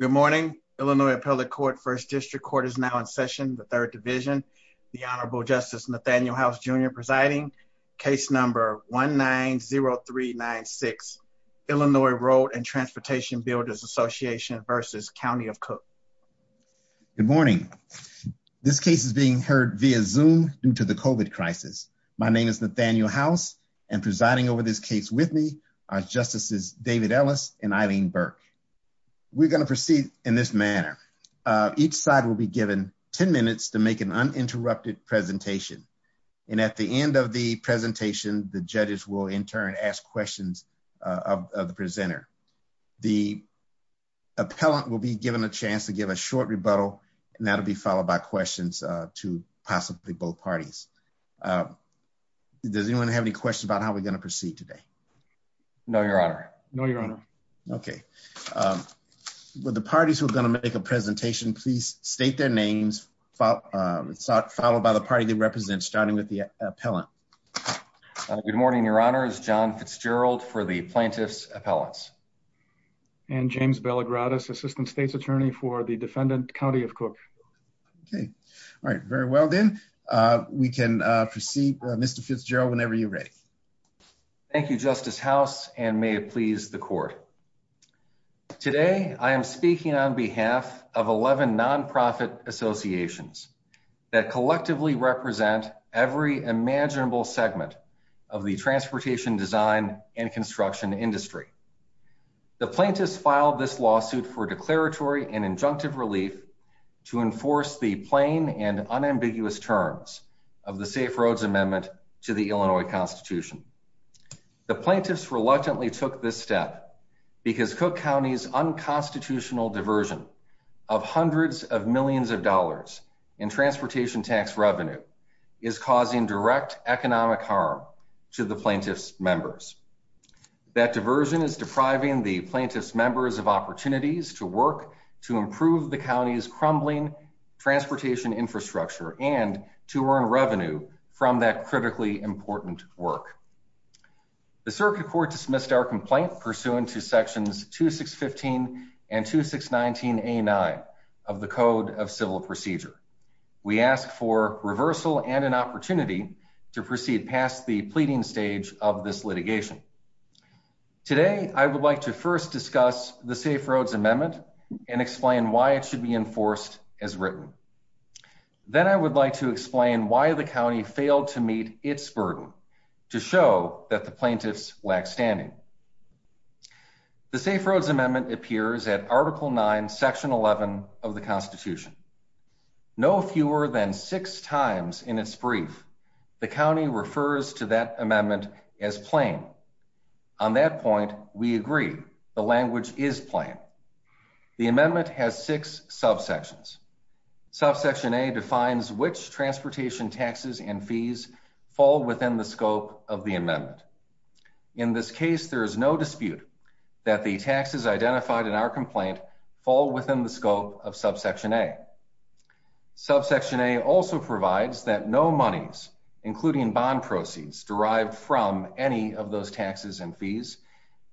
Good morning, Illinois Appellate Court, 1st District Court is now in session, the 3rd Division, the Honorable Justice Nathaniel House Jr. presiding, case number 1-9-0-3-9-6, Illinois Road and Transportation Builders Association versus County of Cook. Good morning, this case is being heard via Zoom due to the COVID crisis. My name is Nathaniel House and presiding over this case with me are Justices David Ellis and Eileen Burke. We're going to proceed in this manner. Each side will be given 10 minutes to make an uninterrupted presentation and at the end of the presentation, the judges will in turn ask questions of the presenter. The appellant will be given a chance to give a short rebuttal and that'll be followed by questions to possibly both parties. Does anyone have any questions about how we're going to proceed today? No, your honor. No, your honor. Okay, will the parties who are going to make a presentation please state their names, followed by the party they represent, starting with the appellant. Good morning, your honor. It's John Fitzgerald for the plaintiff's appellants. And James Belagradis, Assistant State's Attorney for the defendant, County of Cook. Okay, all right, very well then. We can proceed. Mr. Fitzgerald, whenever you're ready. Thank you, Justice House, and may it please the court. Today, I am speaking on behalf of 11 nonprofit associations that collectively represent every imaginable segment of the transportation design and construction industry. The plaintiffs filed this lawsuit for declaratory and injunctive relief to enforce the plain and unambiguous terms of the Safe Roads Amendment to the Illinois Constitution. The plaintiffs reluctantly took this step because Cook County's unconstitutional diversion of hundreds of millions of dollars in transportation tax revenue is causing direct economic harm to the plaintiffs' members. That diversion is depriving the plaintiffs' members of opportunities to work to improve the county's crumbling transportation infrastructure and to earn revenue from that critically important work. The circuit court dismissed our complaint pursuant to sections 2615 and 2619A9 of the Code of Civil Procedure. We ask for reversal and an opportunity to proceed past the pleading stage of this litigation. Today, I would like to first discuss the Safe Roads Amendment and explain why it should be enforced as written. Then, I would like to explain why the county failed to meet its burden to show that the plaintiffs lack standing. The Safe Roads Amendment appears at Article 9, Section 11 of the Constitution. No fewer than six times in its brief, the county refers to that amendment as plain. On that point, we agree the language is plain. The amendment has six subsections. Subsection A defines which transportation taxes and fees fall within the scope of the amendment. In this case, there is no dispute that the taxes identified in our complaint fall within the scope of Subsection A. Subsection A also provides that no monies, including bond proceeds, derived from any of those taxes and fees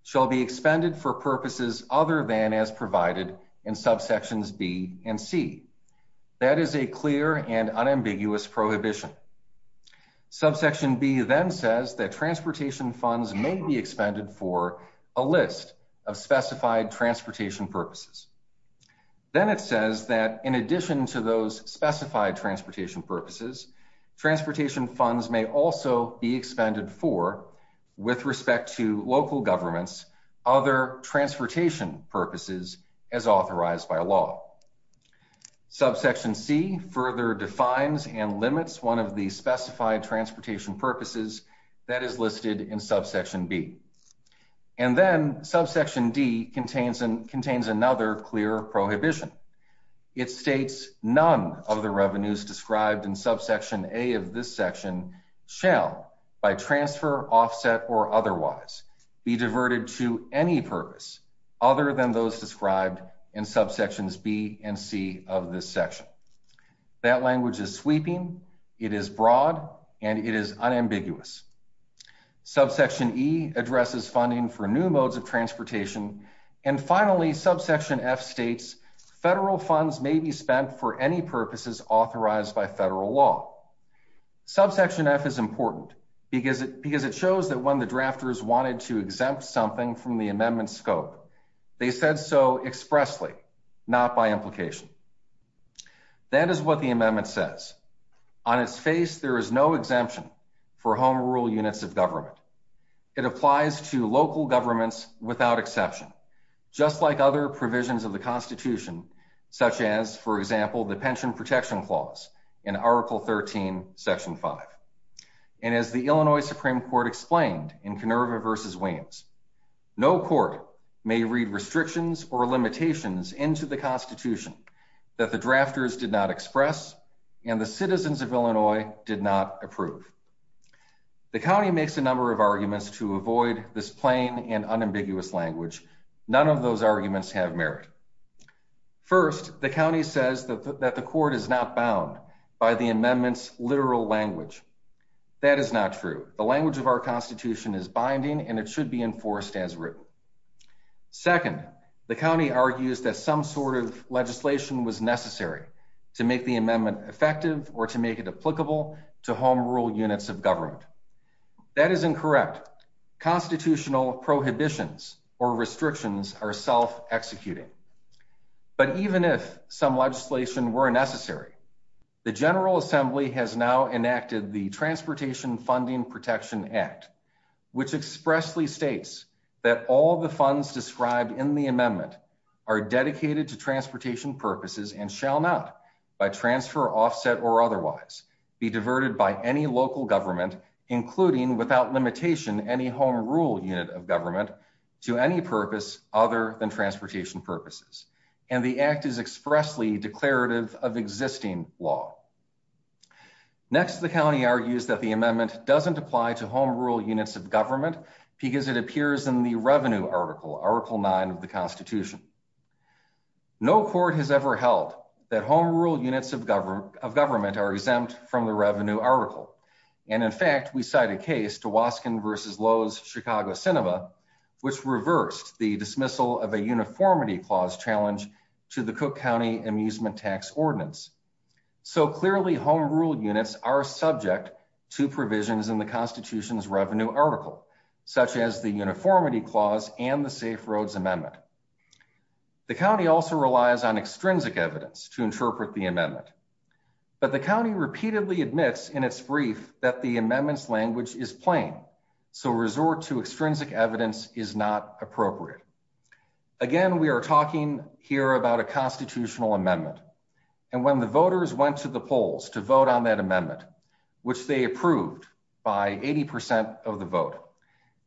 shall be expended for purposes other than as provided in Subsections B and C. That is a clear and unambiguous prohibition. Subsection B then says that transportation funds may be expended for a list of specified transportation purposes. Then, it says that in addition to those specified transportation purposes, transportation funds may also be expended for, with respect to local governments, other transportation purposes as authorized by law. Subsection C further defines and limits one of the specified transportation purposes that is listed in Subsection B. And then, Subsection D contains another clear prohibition. It states none of the revenues described in Subsection A of this section shall, by transfer, offset, or otherwise, be diverted to any purpose other than those described in Subsections B and C of this section. That language is sweeping, it is broad, and it is unambiguous. Subsection E addresses funding for new modes of transportation. And finally, Subsection F states federal funds may be spent for any purposes authorized by federal law. Subsection F is important because it shows that when the drafters wanted to exempt something from the amendment scope, they said so expressly, not by implication. That is what the amendment says. On its face, there is no exemption for home rural units of government. It applies to local governments without exception, just like other provisions of the clause in Article 13, Section 5. And as the Illinois Supreme Court explained in Kenurva v. Williams, no court may read restrictions or limitations into the Constitution that the drafters did not express and the citizens of Illinois did not approve. The county makes a number of arguments to avoid this plain and unambiguous language. None of those arguments have merit. First, the county says that the court is not bound by the amendment's literal language. That is not true. The language of our Constitution is binding and it should be enforced as written. Second, the county argues that some sort of legislation was necessary to make the amendment effective or to make it applicable to home rural units of government. That is incorrect. Constitutional legislation were necessary. The General Assembly has now enacted the Transportation Funding Protection Act, which expressly states that all the funds described in the amendment are dedicated to transportation purposes and shall not, by transfer, offset, or otherwise, be diverted by any local government, including without limitation any home rural unit of government, to any purpose other than transportation purposes. And the act is expressly declarative of existing law. Next, the county argues that the amendment doesn't apply to home rural units of government because it appears in the revenue article, Article 9 of the Constitution. No court has ever held that home rural units of government are exempt from the revenue article. And in fact, we cite a the dismissal of a uniformity clause challenge to the Cook County Amusement Tax Ordinance. So clearly, home rural units are subject to provisions in the Constitution's revenue article, such as the uniformity clause and the Safe Roads Amendment. The county also relies on extrinsic evidence to interpret the amendment. But the county repeatedly admits in its brief that the amendment's evidence is not appropriate. Again, we are talking here about a constitutional amendment. And when the voters went to the polls to vote on that amendment, which they approved by 80% of the vote,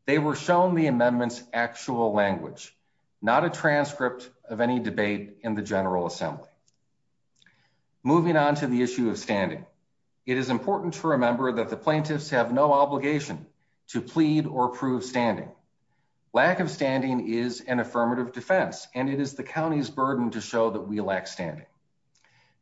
they were shown the amendment's actual language, not a transcript of any debate in the General Assembly. Moving on to the issue of standing, it is important to remember that the lack of standing is an affirmative defense, and it is the county's burden to show that we lack standing.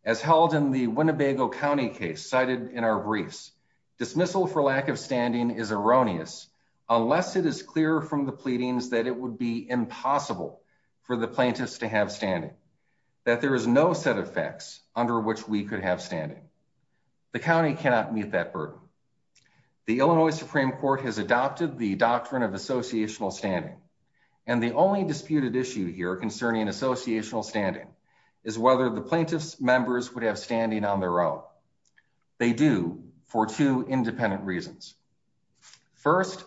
As held in the Winnebago County case cited in our briefs, dismissal for lack of standing is erroneous, unless it is clear from the pleadings that it would be impossible for the plaintiffs to have standing, that there is no set of facts under which we could have standing. The county cannot meet that burden. The Illinois Supreme Court has an associational standing. And the only disputed issue here concerning associational standing is whether the plaintiff's members would have standing on their own. They do, for two independent reasons. First,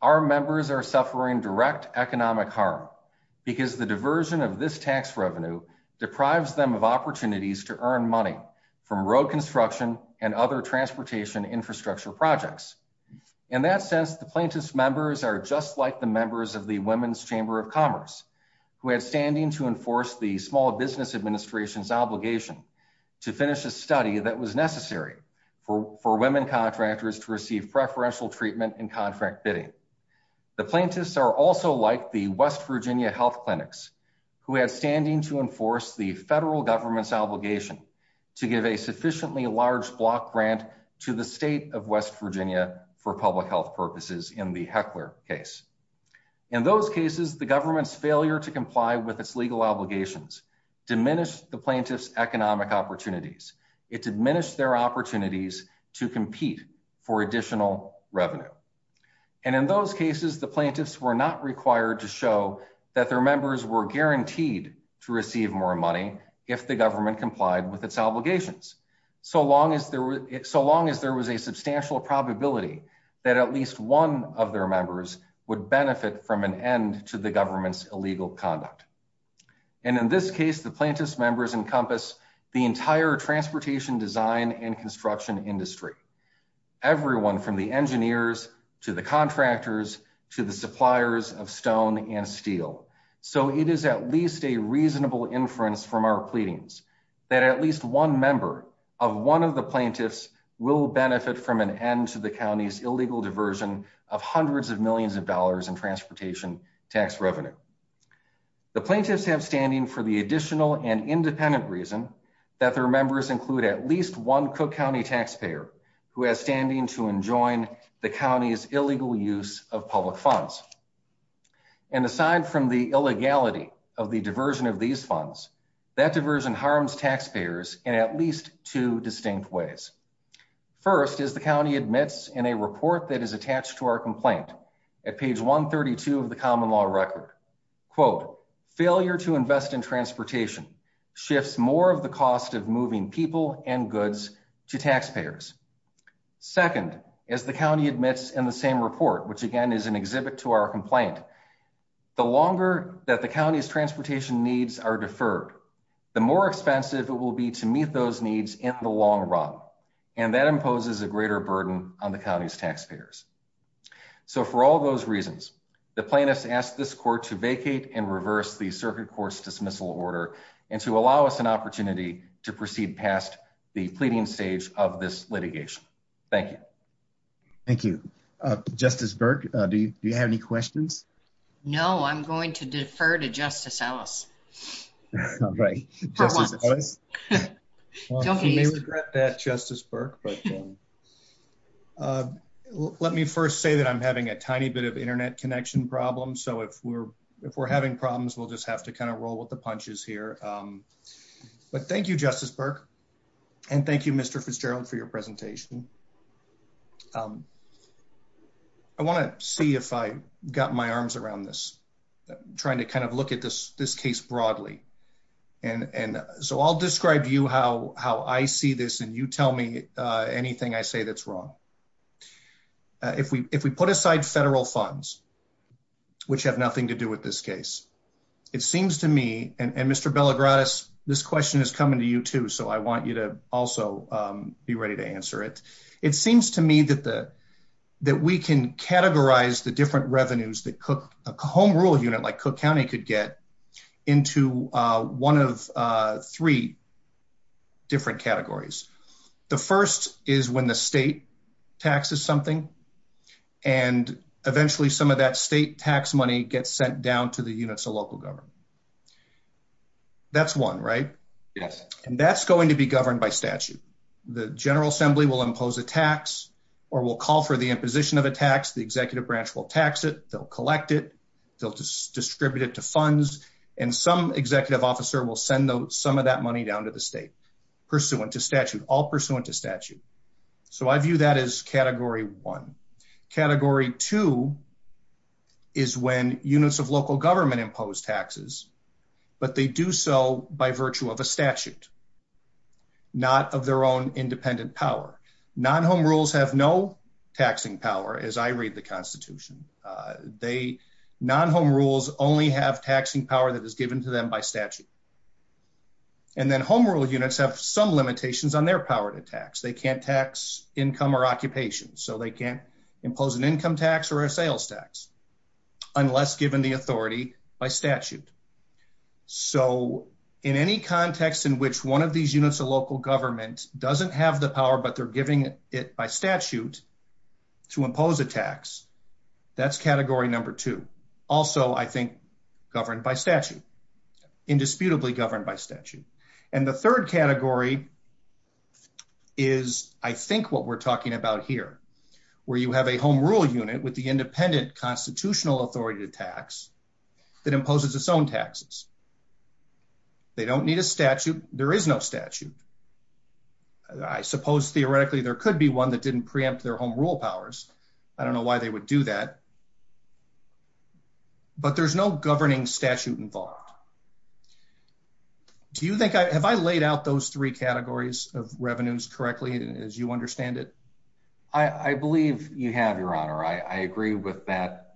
our members are suffering direct economic harm, because the diversion of this tax revenue deprives them of opportunities to earn money from road construction and other transportation infrastructure projects. In that sense, the plaintiff's members are just like the members of the Women's Chamber of Commerce, who had standing to enforce the Small Business Administration's obligation to finish a study that was necessary for women contractors to receive preferential treatment and contract bidding. The plaintiffs are also like the West Virginia Health Clinics, who had standing to enforce the federal government's obligation to give a sufficiently large block grant to the state of West Virginia for public health purposes in the Heckler case. In those cases, the government's failure to comply with its legal obligations diminished the plaintiffs' economic opportunities. It diminished their opportunities to compete for additional revenue. And in those cases, the plaintiffs were not required to show that their members were guaranteed to receive more money if the government complied with its obligations. So long as there was a substantial probability that at least one of their members would benefit from an end to the government's illegal conduct. And in this case, the plaintiffs' members encompass the entire transportation design and construction industry. Everyone from the engineers, to the contractors, to the suppliers of stone and steel. So it is at least a reasonable inference from our pleadings that at least one member of one of the plaintiffs will benefit from an end to the county's illegal diversion of hundreds of millions of dollars in transportation tax revenue. The plaintiffs have standing for the additional and independent reason that their members include at least one Cook County taxpayer who has standing to enjoin the county's illegal use of public funds. And aside from the illegality of the diversion of these funds, that diversion harms taxpayers in at least two distinct ways. First, as the county admits in a report that is attached to our complaint, at page 132 of the common law record, quote, failure to invest in transportation shifts more of the cost of moving people and goods to taxpayers. Second, as the county admits in the same report, which again is an exhibit to our complaint, the longer that the county's needs in the long run. And that imposes a greater burden on the county's taxpayers. So for all those reasons, the plaintiffs ask this court to vacate and reverse the circuit court's dismissal order and to allow us an opportunity to proceed past the pleading stage of this litigation. Thank you. Thank you. Justice Burke, do you have any questions? No, I'm going to defer to Justice Ellis. Okay. Don't be afraid. We may regret that, Justice Burke, but let me first say that I'm having a tiny bit of internet connection problems, so if we're having problems, we'll just have to kind of roll with the punches here. But thank you, Justice Burke, and thank you, Mr. Fitzgerald, for your presentation. I want to see if I got my questions broadly. And so I'll describe to you how I see this, and you tell me anything I say that's wrong. If we put aside federal funds, which have nothing to do with this case, it seems to me, and Mr. Bellagrass, this question is coming to you, too, so I want you to also be ready to answer it. It seems to me that we can categorize the different revenues that a home renewal unit like Cook County could get into one of three different categories. The first is when the state taxes something, and eventually some of that state tax money gets sent down to the units of local government. That's one, right? And that's going to be governed by statute. The General Assembly will impose a tax, or will call for the imposition of a tax. The Executive Branch will tax it, they'll collect it, they'll distribute it to funds, and some executive officer will send some of that money down to the state, pursuant to statute, all pursuant to statute. So I view that as Category 1. Category 2 is when units of local government impose taxes, but they do so by virtue of a statute, not of their own independent power. Non-home rules have no constitution. Non-home rules only have taxing power that is given to them by statute. And then home rule units have some limitations on their power to tax. They can't tax income or occupation, so they can't impose an income tax or a sales tax, unless given the authority by statute. So in any context in which one of these units of local government doesn't have the power, but they're giving it by statute to impose a tax, that's Category Number 2. Also, I think, governed by statute, indisputably governed by statute. And the third category is, I think, what we're talking about here, where you have a home rule unit with the independent constitutional authority to tax that imposes its own there could be one that didn't preempt their home rule powers. I don't know why they would do that. But there's no governing statute involved. Do you think I have I laid out those three categories of revenues correctly, as you understand it? I believe you have, Your Honor. I agree with that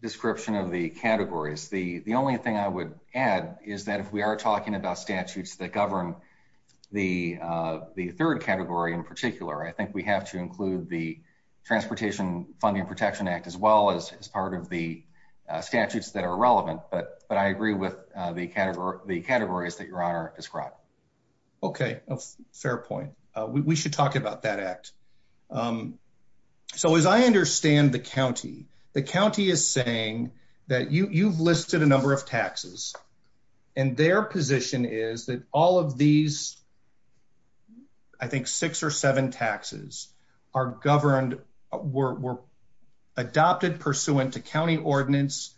description of the categories. The only thing I would add is that if we are talking about I think we have to include the Transportation Funding Protection Act as well as part of the statutes that are relevant. But I agree with the categories that Your Honor described. Okay, fair point. We should talk about that act. So as I understand the county, the county is saying that you've listed a number of taxes, and their position is that all of these, I think, six or seven taxes are governed were adopted pursuant to county ordinance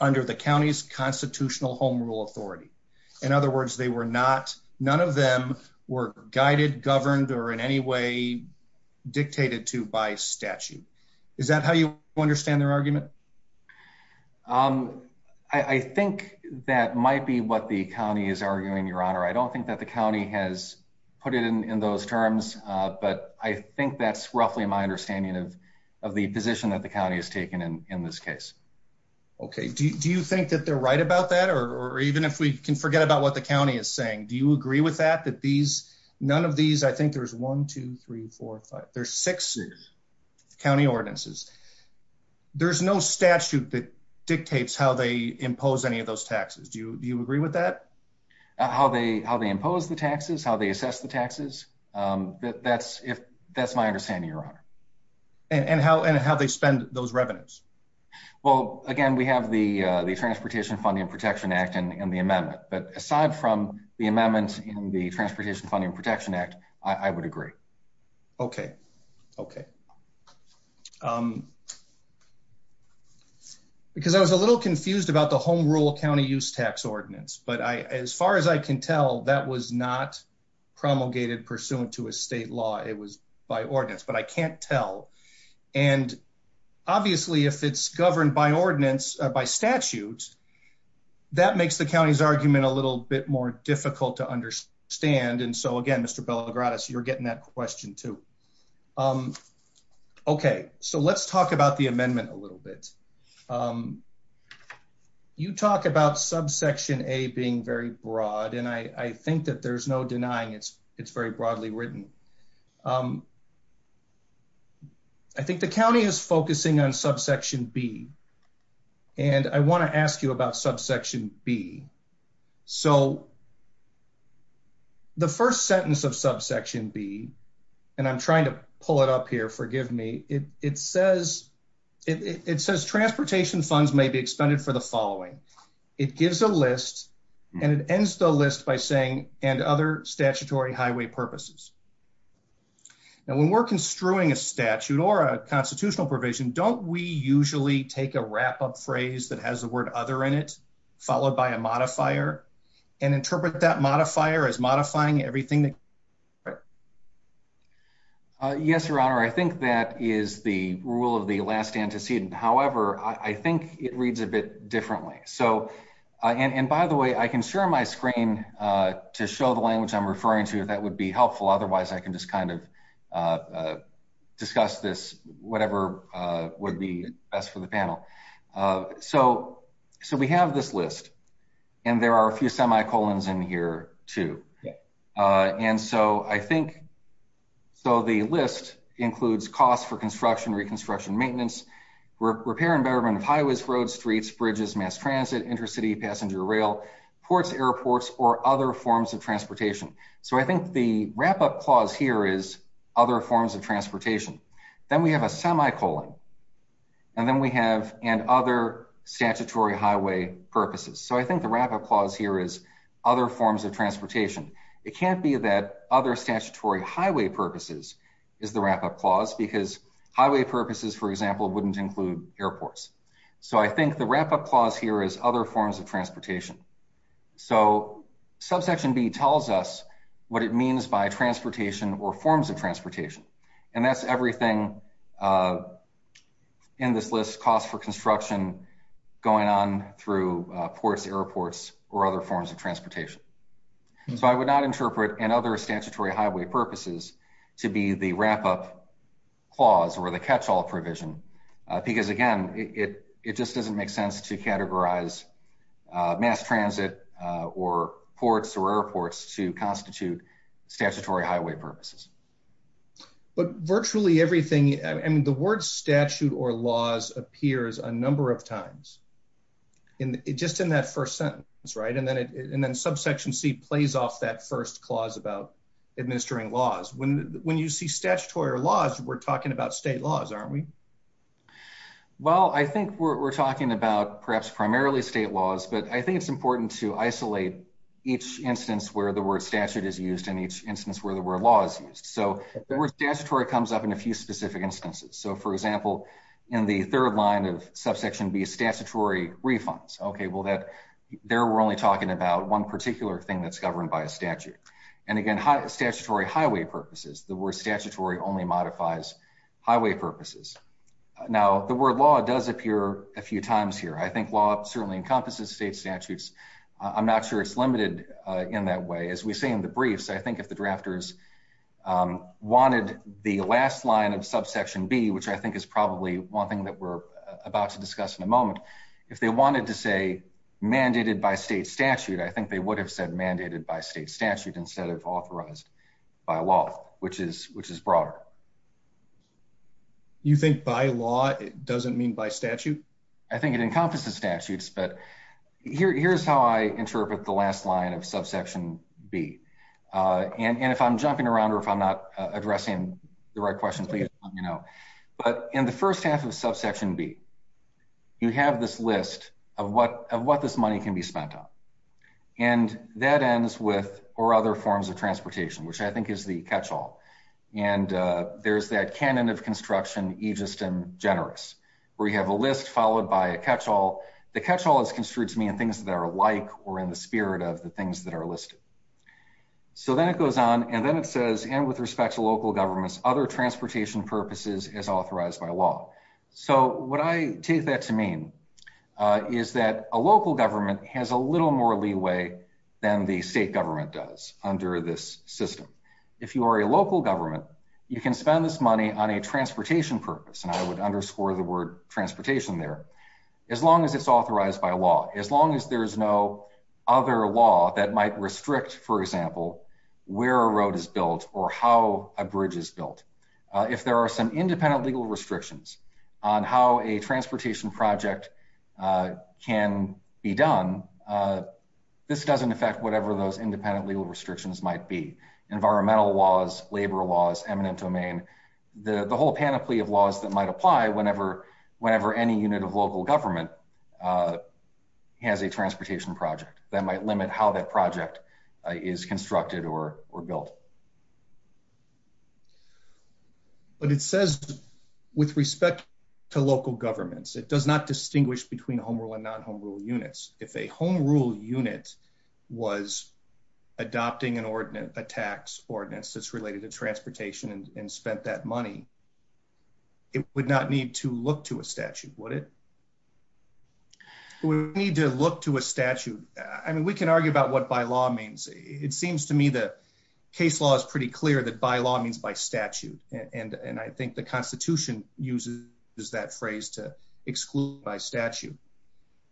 under the county's constitutional home rule authority. In other words, they were not. None of them were guided, governed or in any way dictated to by statute. Is that how you understand their argument? Um, I think that might be what the county is arguing, Your Honor. I don't think that the county has put it in those terms, but I think that's roughly my understanding of the position that the county has taken in this case. Okay. Do you think that they're right about that? Or even if we can forget about what the county is saying, do you agree with that? That these none of these? I think there's 1, 2, 3, 4, 5. There's six county ordinances. There's no statute that dictates how they impose any of those taxes. Do you agree with that? How they how they impose the taxes, how they assess the taxes. Um, that that's if that's my understanding, Your Honor. And how and how they spend those revenues? Well, again, we have the Transportation Funding Protection Act and the amendment. But aside from the amendments in the Transportation Funding Protection Act, I would agree. Okay. Okay. Um, because I was a little confused about the Home Rule County Use Tax Ordinance. But as far as I can tell, that was not promulgated pursuant to a state law. It was by ordinance, but I can't tell. And obviously, if it's governed by ordinance by statutes, that makes the county's argument a little bit more difficult to understand. And so again, Mr Bellagratis, you're getting that question, too. Um, okay, so let's talk about the amendment a little bit. Um, you talk about subsection A being very broad, and I think that there's no denying it's very broadly written. Um, I think the county is focusing on subsection B, and I want to ask you about subsection B. So the first sentence of subsection B, and I'm trying to pull it up here. Forgive me. It says it says transportation funds may be expended for the following. It gives a list, and it ends the list by saying and other statutory highway purposes. And when we're construing a statute or a constitutional provision, don't we usually take a wrap up phrase that has the word other in it, followed by a interpret that modifier is modifying everything. Yes, Your Honor. I think that is the rule of the last antecedent. However, I think it reads a bit differently. So on. And by the way, I can share my screen to show the language I'm referring to. That would be helpful. Otherwise, I can just kind of, uh, discuss this. Whatever would be best for the panel. So so we have this list, and there are a few semi colons in here, too. And so I think so. The list includes cost for construction, reconstruction, maintenance, repair and betterment of highways, roads, streets, bridges, mass transit, intercity passenger rail, ports, airports or other forms of transportation. So I think the wrap up clause here is other forms of transportation. Then we have a semi colon, and then we have and other statutory highway purposes. So I think the wrap up clause here is other forms of transportation. It can't be that other statutory highway purposes is the wrap up clause because highway purposes, for example, wouldn't include airports. So I think the wrap up clause here is other forms of transportation. So subsection B tells us what it means by transportation or and that's everything, uh, in this list cost for construction going on through ports, airports or other forms of transportation. So I would not interpret and other statutory highway purposes to be the wrap up clause over the capsule provision because again, it just doesn't make sense to categorize mass transit or ports or airports to constitute statutory highway purposes. But virtually everything and the word statute or laws appears a number of times in just in that first sentence, right? And then and then subsection C plays off that first clause about administering laws. When when you see statutory laws, we're talking about state laws, aren't we? Well, I think we're talking about perhaps primarily state laws, but I think it's important to isolate each instance where the word statute is used in each instance where the word law is used. So statutory comes up in a few specific instances. So, for example, in the third line of subsection B statutory refunds. Okay, well, that there we're only talking about one particular thing that's governed by a statute and again, statutory highway purposes. The word statutory only modifies highway purposes. Now, the word law does appear a few times here. I think law certainly encompasses state if the drafters, um, wanted the last line of subsection B, which I think is probably one thing that we're about to discuss in a moment. If they wanted to say mandated by state statute, I think they would have said mandated by state statute instead of authorized by law, which is which is broader. You think by law doesn't mean by statute? I think it encompasses statutes, but here's how I interpret the last line of subsection B. And if I'm jumping around or if I'm not addressing the right question, please let me know. But in the first half of subsection B, you have this list of what of what this money can be spent on. And that ends with or other forms of transportation, which I think is the catch all. And there's that canon of construction, you just and generous where you have a list followed by a catch all. The catch all is construed to mean things that are like or in the spirit of the things that are listed. So then it goes on and then it says, and with respect to local governments, other transportation purposes is authorized by law. So what I take that to mean is that a local government has a little more leeway than the state government does under this system. If you are a local government, you can spend this money on a transportation purpose. And I would underscore the word transportation there. As long as it's authorized by law, as long as there's no other law that might restrict, for example, where a road is built or how a bridge is built. If there are some independent legal restrictions on how a transportation project can be done, this doesn't affect whatever those independent legal restrictions might be. Environmental laws, labor laws, eminent domain, the whole panoply of laws that might apply whenever any unit of local government has a transportation project that might limit how that project is constructed or built. But it says, with respect to local governments, it does not distinguish between home rule and non home rule units. If a home rule unit was adopting an ordinance, a tax ordinance that's related to transportation and spent that money, it would not need to look to a statute, would it? We need to look to a statute. I mean, we can argue about what by law means. It seems to me the case law is pretty clear that by law means by statute. And I think the Constitution uses that phrase to exclude by statute.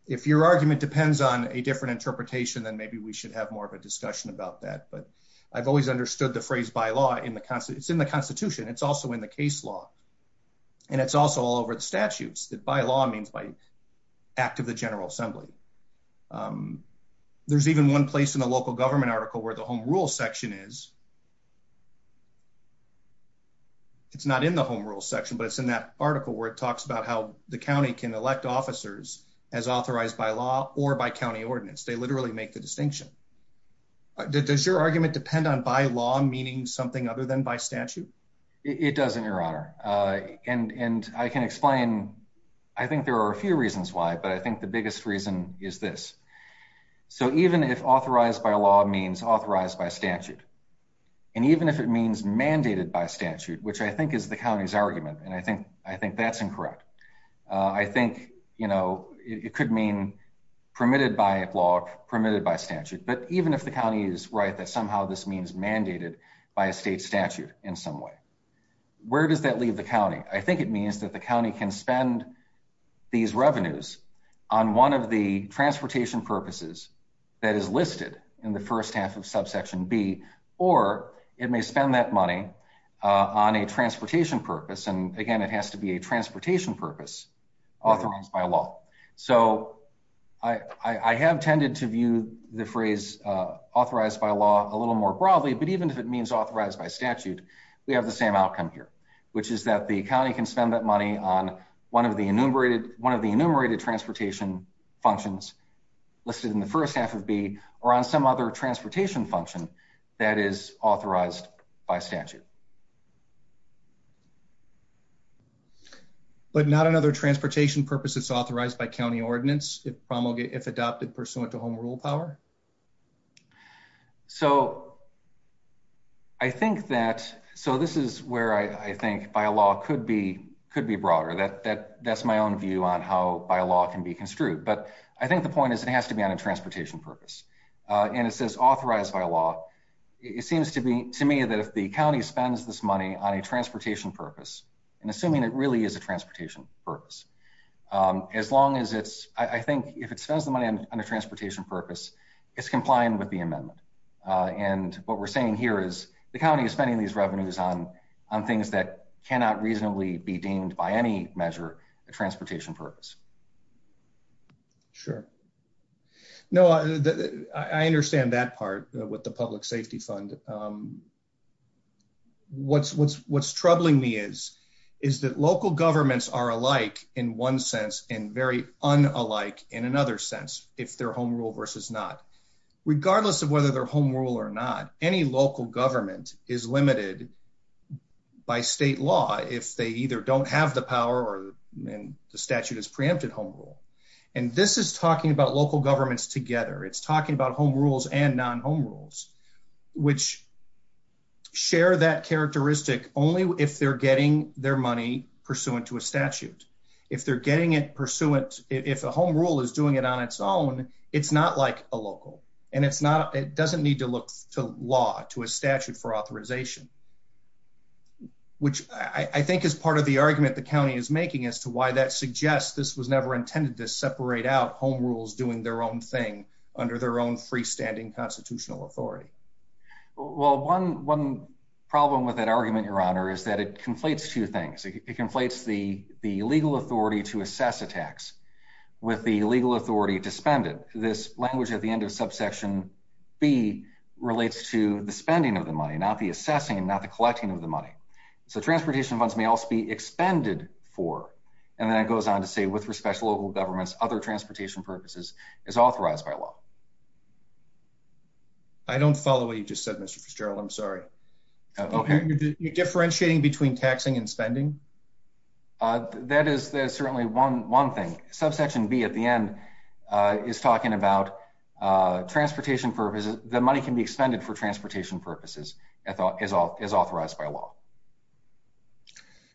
If your argument depends on a different interpretation, then maybe we should have more of a discussion about that. But I've always understood the phrase by law in the Constitution. It's in the Constitution. It's also in the case law. And it's also all over the statutes that by law means by act of the General Assembly. There's even one place in the local government article where the home rule section is. It's not in the home rule section, but it's in that article where it talks about how the county can elect officers as authorized by law or by county ordinance. They literally make the distinction. Does your argument depend on by law, meaning something other than by statute? It doesn't, Your Honor. And and I can explain. I think there are a few reasons why, but I think the biggest reason is this. So even if authorized by law means authorized by statute, and even if it means mandated by statute, which I think is the county's argument, and I think I think that's incorrect. I think, you know, it could mean permitted by law, permitted by statute. But even if the county is right, that somehow this means mandated by a state statute in some way. Where does that leave the county? I think it means that the county can spend these revenues on one of the transportation purposes that is listed in the first half of subsection B, or it may spend that money on a transportation purpose. And again, it has to be transportation purpose authorized by law. So I have tended to view the phrase authorized by law a little more broadly. But even if it means authorized by statute, we have the same outcome here, which is that the county can spend that money on one of the enumerated one of the enumerated transportation functions listed in the first half of B or on some other transportation function that is authorized by statute. But not another transportation purpose that's authorized by county ordinance if adopted pursuant to home rule power? So I think that, so this is where I think by law could be broader. That's my own view on how by law can be construed. But I think the point is it has to be on a transportation purpose. And it says authorized by law. It seems to me that if the county spends this money on a transportation purpose, and assuming it really is a transportation purpose, as long as it's, I think if it says the money on a transportation purpose, it's compliant with the amendment. And what we're saying here is the county is spending these revenues on things that cannot reasonably be deemed by any measure a transportation purpose. Sure. No, I understand that part with the public safety fund. What's what's what's troubling me is is that local governments are alike in one sense and very unalike in another sense if their home rule versus not. Regardless of whether their home rule or not, any local government is limited by state law if they either don't have the power or the statute is preempted home rule. And this is talking about local governments together. It's talking about home rules and non home rules, which share that characteristic only if they're getting their money pursuant to a statute. If they're getting it pursuant, if the home rule is doing it on its own, it's not like a local and it's not. It doesn't need to look to law to a statute for authorization, which I think is part of the argument the county is making as to why that suggests this was never intended to separate out home rules doing their own thing under their own freestanding constitutional authority. Well, 11 problem with that argument, Your Honor, is that it conflates two things. It conflates the the legal authority to assess attacks with the legal authority to spend it. This language at the end of subsection B relates to the spending of the money, not the assessing and not the collecting of the money. So it goes on to say, with respect to local governments, other transportation purposes is authorized by law. I don't follow what you just said, Mr. Fitzgerald. I'm sorry. Okay, you're differentiating between taxing and spending. Uh, that is certainly 11 thing. Subsection B at the end, uh, is talking about, uh, transportation purposes. The money can be expended for transportation purposes. I thought is all is authorized by law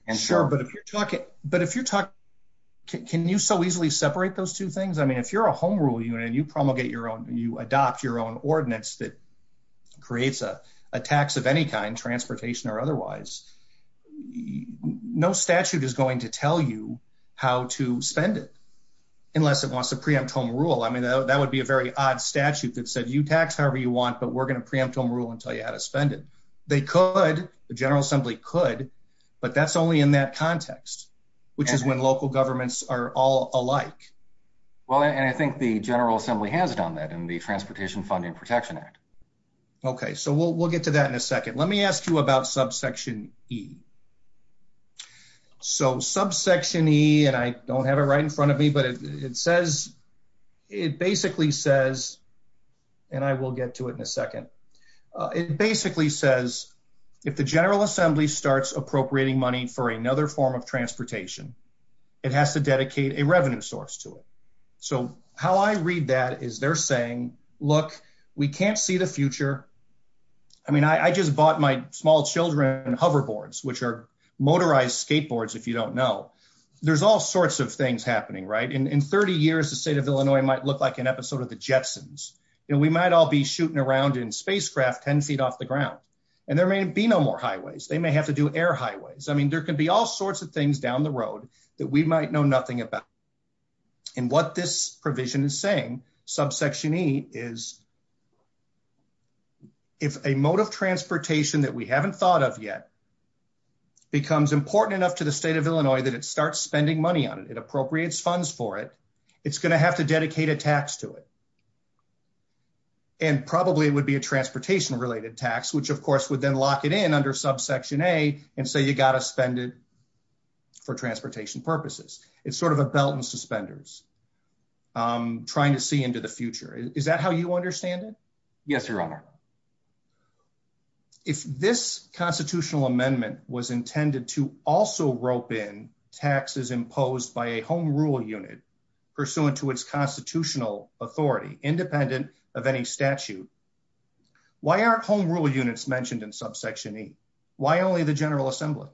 and sure, but if you're talking, but if you're talking, can you so easily separate those two things? I mean, if you're a home rule unit, you probably get your own. You adopt your own ordinance that creates a tax of any kind, transportation or otherwise. No statute is going to tell you how to spend it unless it wants to preempt home rule. I mean, that would be a very odd statute that said you tax however you want, but we're gonna preempt home rule and tell you how to spend it. They could. The General Assembly could, but that's only in that context, which is when local governments are all alike. Well, I think the General Assembly has done that in the Transportation Funding Protection Act. Okay, so we'll, we'll get to that in a second. Let me ask you about subsection E. So subsection E and I don't have it right in front of me, but it says it basically says, and I will get to it in a second. It basically says if the General Assembly starts appropriating money for another form of transportation, it has to dedicate a revenue source to it. So how I read that is they're saying, look, we can't see the future. I mean, I just bought my small children hoverboards, which are motorized skateboards, if you don't know. There's all sorts of things happening, right? In 30 years, the state of Illinois might look like an episode of the Jetsons, and we might all be shooting around in spacecraft 10 feet off the ground, and there may be no more highways. They may have to do air highways. I mean, there could be all sorts of things down the road that we might know nothing about. And what this provision is saying, subsection E is if a mode of transportation that we haven't thought of yet becomes important enough to the state of Illinois that it starts spending money on it, it appropriates funds for it, it's gonna have to dedicate a tax to it. And probably it would be a transportation related tax, which of course would then lock it in under subsection A and say, you gotta spend it for transportation purposes. It's sort of a belt and suspenders trying to see into the future. Is that how you understand it? Yes, Your Honor. If this constitutional amendment was intended to also rope in taxes imposed by a home rule unit pursuant to its constitutional authority, independent of any statute, why aren't home rule units mentioned in subsection E? Why only the General Assembly?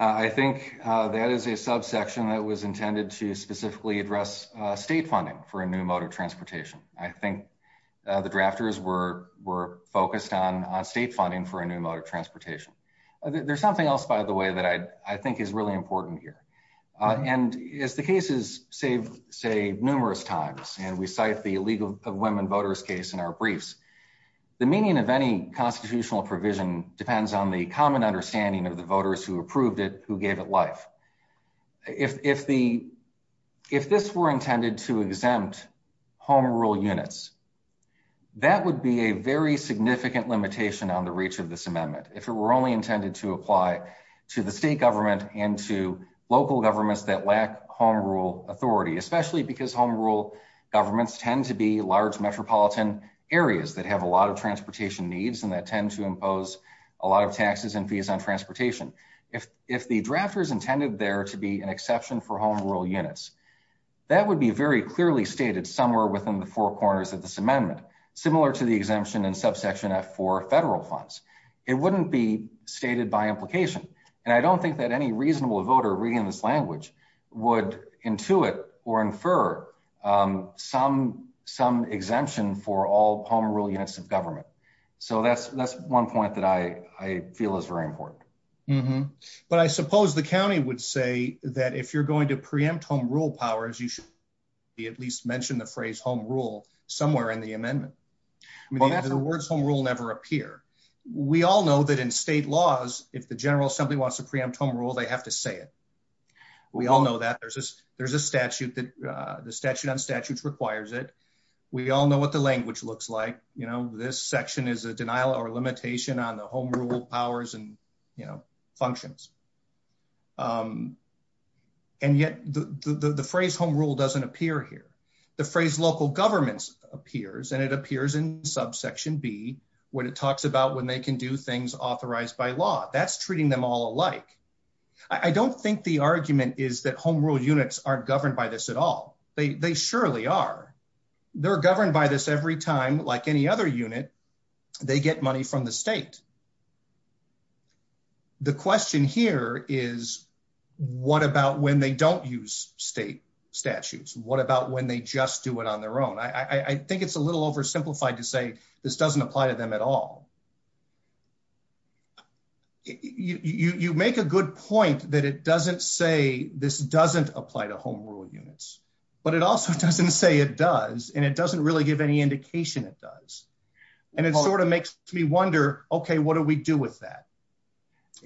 I think that is a subsection that was intended to specifically address state funding for a new mode of transportation. I think the drafters were focused on state funding for a new mode of transportation. There's something else, by the way, that I think is really important here. And as the cases say numerous times, and we cite the illegal women voters case in our briefs, the meaning of any constitutional provision depends on the common understanding of the voters who approved it, who gave it life. If this were intended to exempt home rule units, that would be a very significant limitation on the reach of this amendment. If it were only intended to apply to the state government and to local governments that lack home rule authority, especially because home rule governments tend to be large metropolitan areas that have a lot of transportation needs and that tend to impose a lot of taxes and fees on transportation. If the drafters intended there to be an exception for home rule units, that would be very clearly stated somewhere within the four corners of this amendment, similar to the exemption in subsection F for federal funds. It wouldn't be stated by implication. And I don't think that any reasonable voter reading this language would intuit or infer some exemption for all home rule units of government. So that's one point that I feel is very important. But I suppose the county would say that if you're going to preempt home rule powers, you should at least mention the phrase home rule somewhere in the words home rule never appear. We all know that in state laws, if the general assembly wants to preempt home rule, they have to say it. We all know that there's a statute that the statute on statutes requires it. We all know what the language looks like. You know, this section is a denial or limitation on the home rule powers and, you know, functions. And yet the phrase home rule doesn't appear here. The phrase local governments appears, and it appears in subsection B when it talks about when they can do things authorized by law. That's treating them all alike. I don't think the argument is that home rule units are governed by this at all. They surely are. They're governed by this every time, like any other unit, they get money from the state. The question here is, what about when they don't use state statutes? What about when they just do it on their own? I think it's a little oversimplified to say this doesn't apply to them at all. You make a good point that it doesn't say this doesn't apply to home rule units, but it also doesn't say it does, and it doesn't really give any indication it does. And it sort of makes me wonder, Okay, what do we do with that?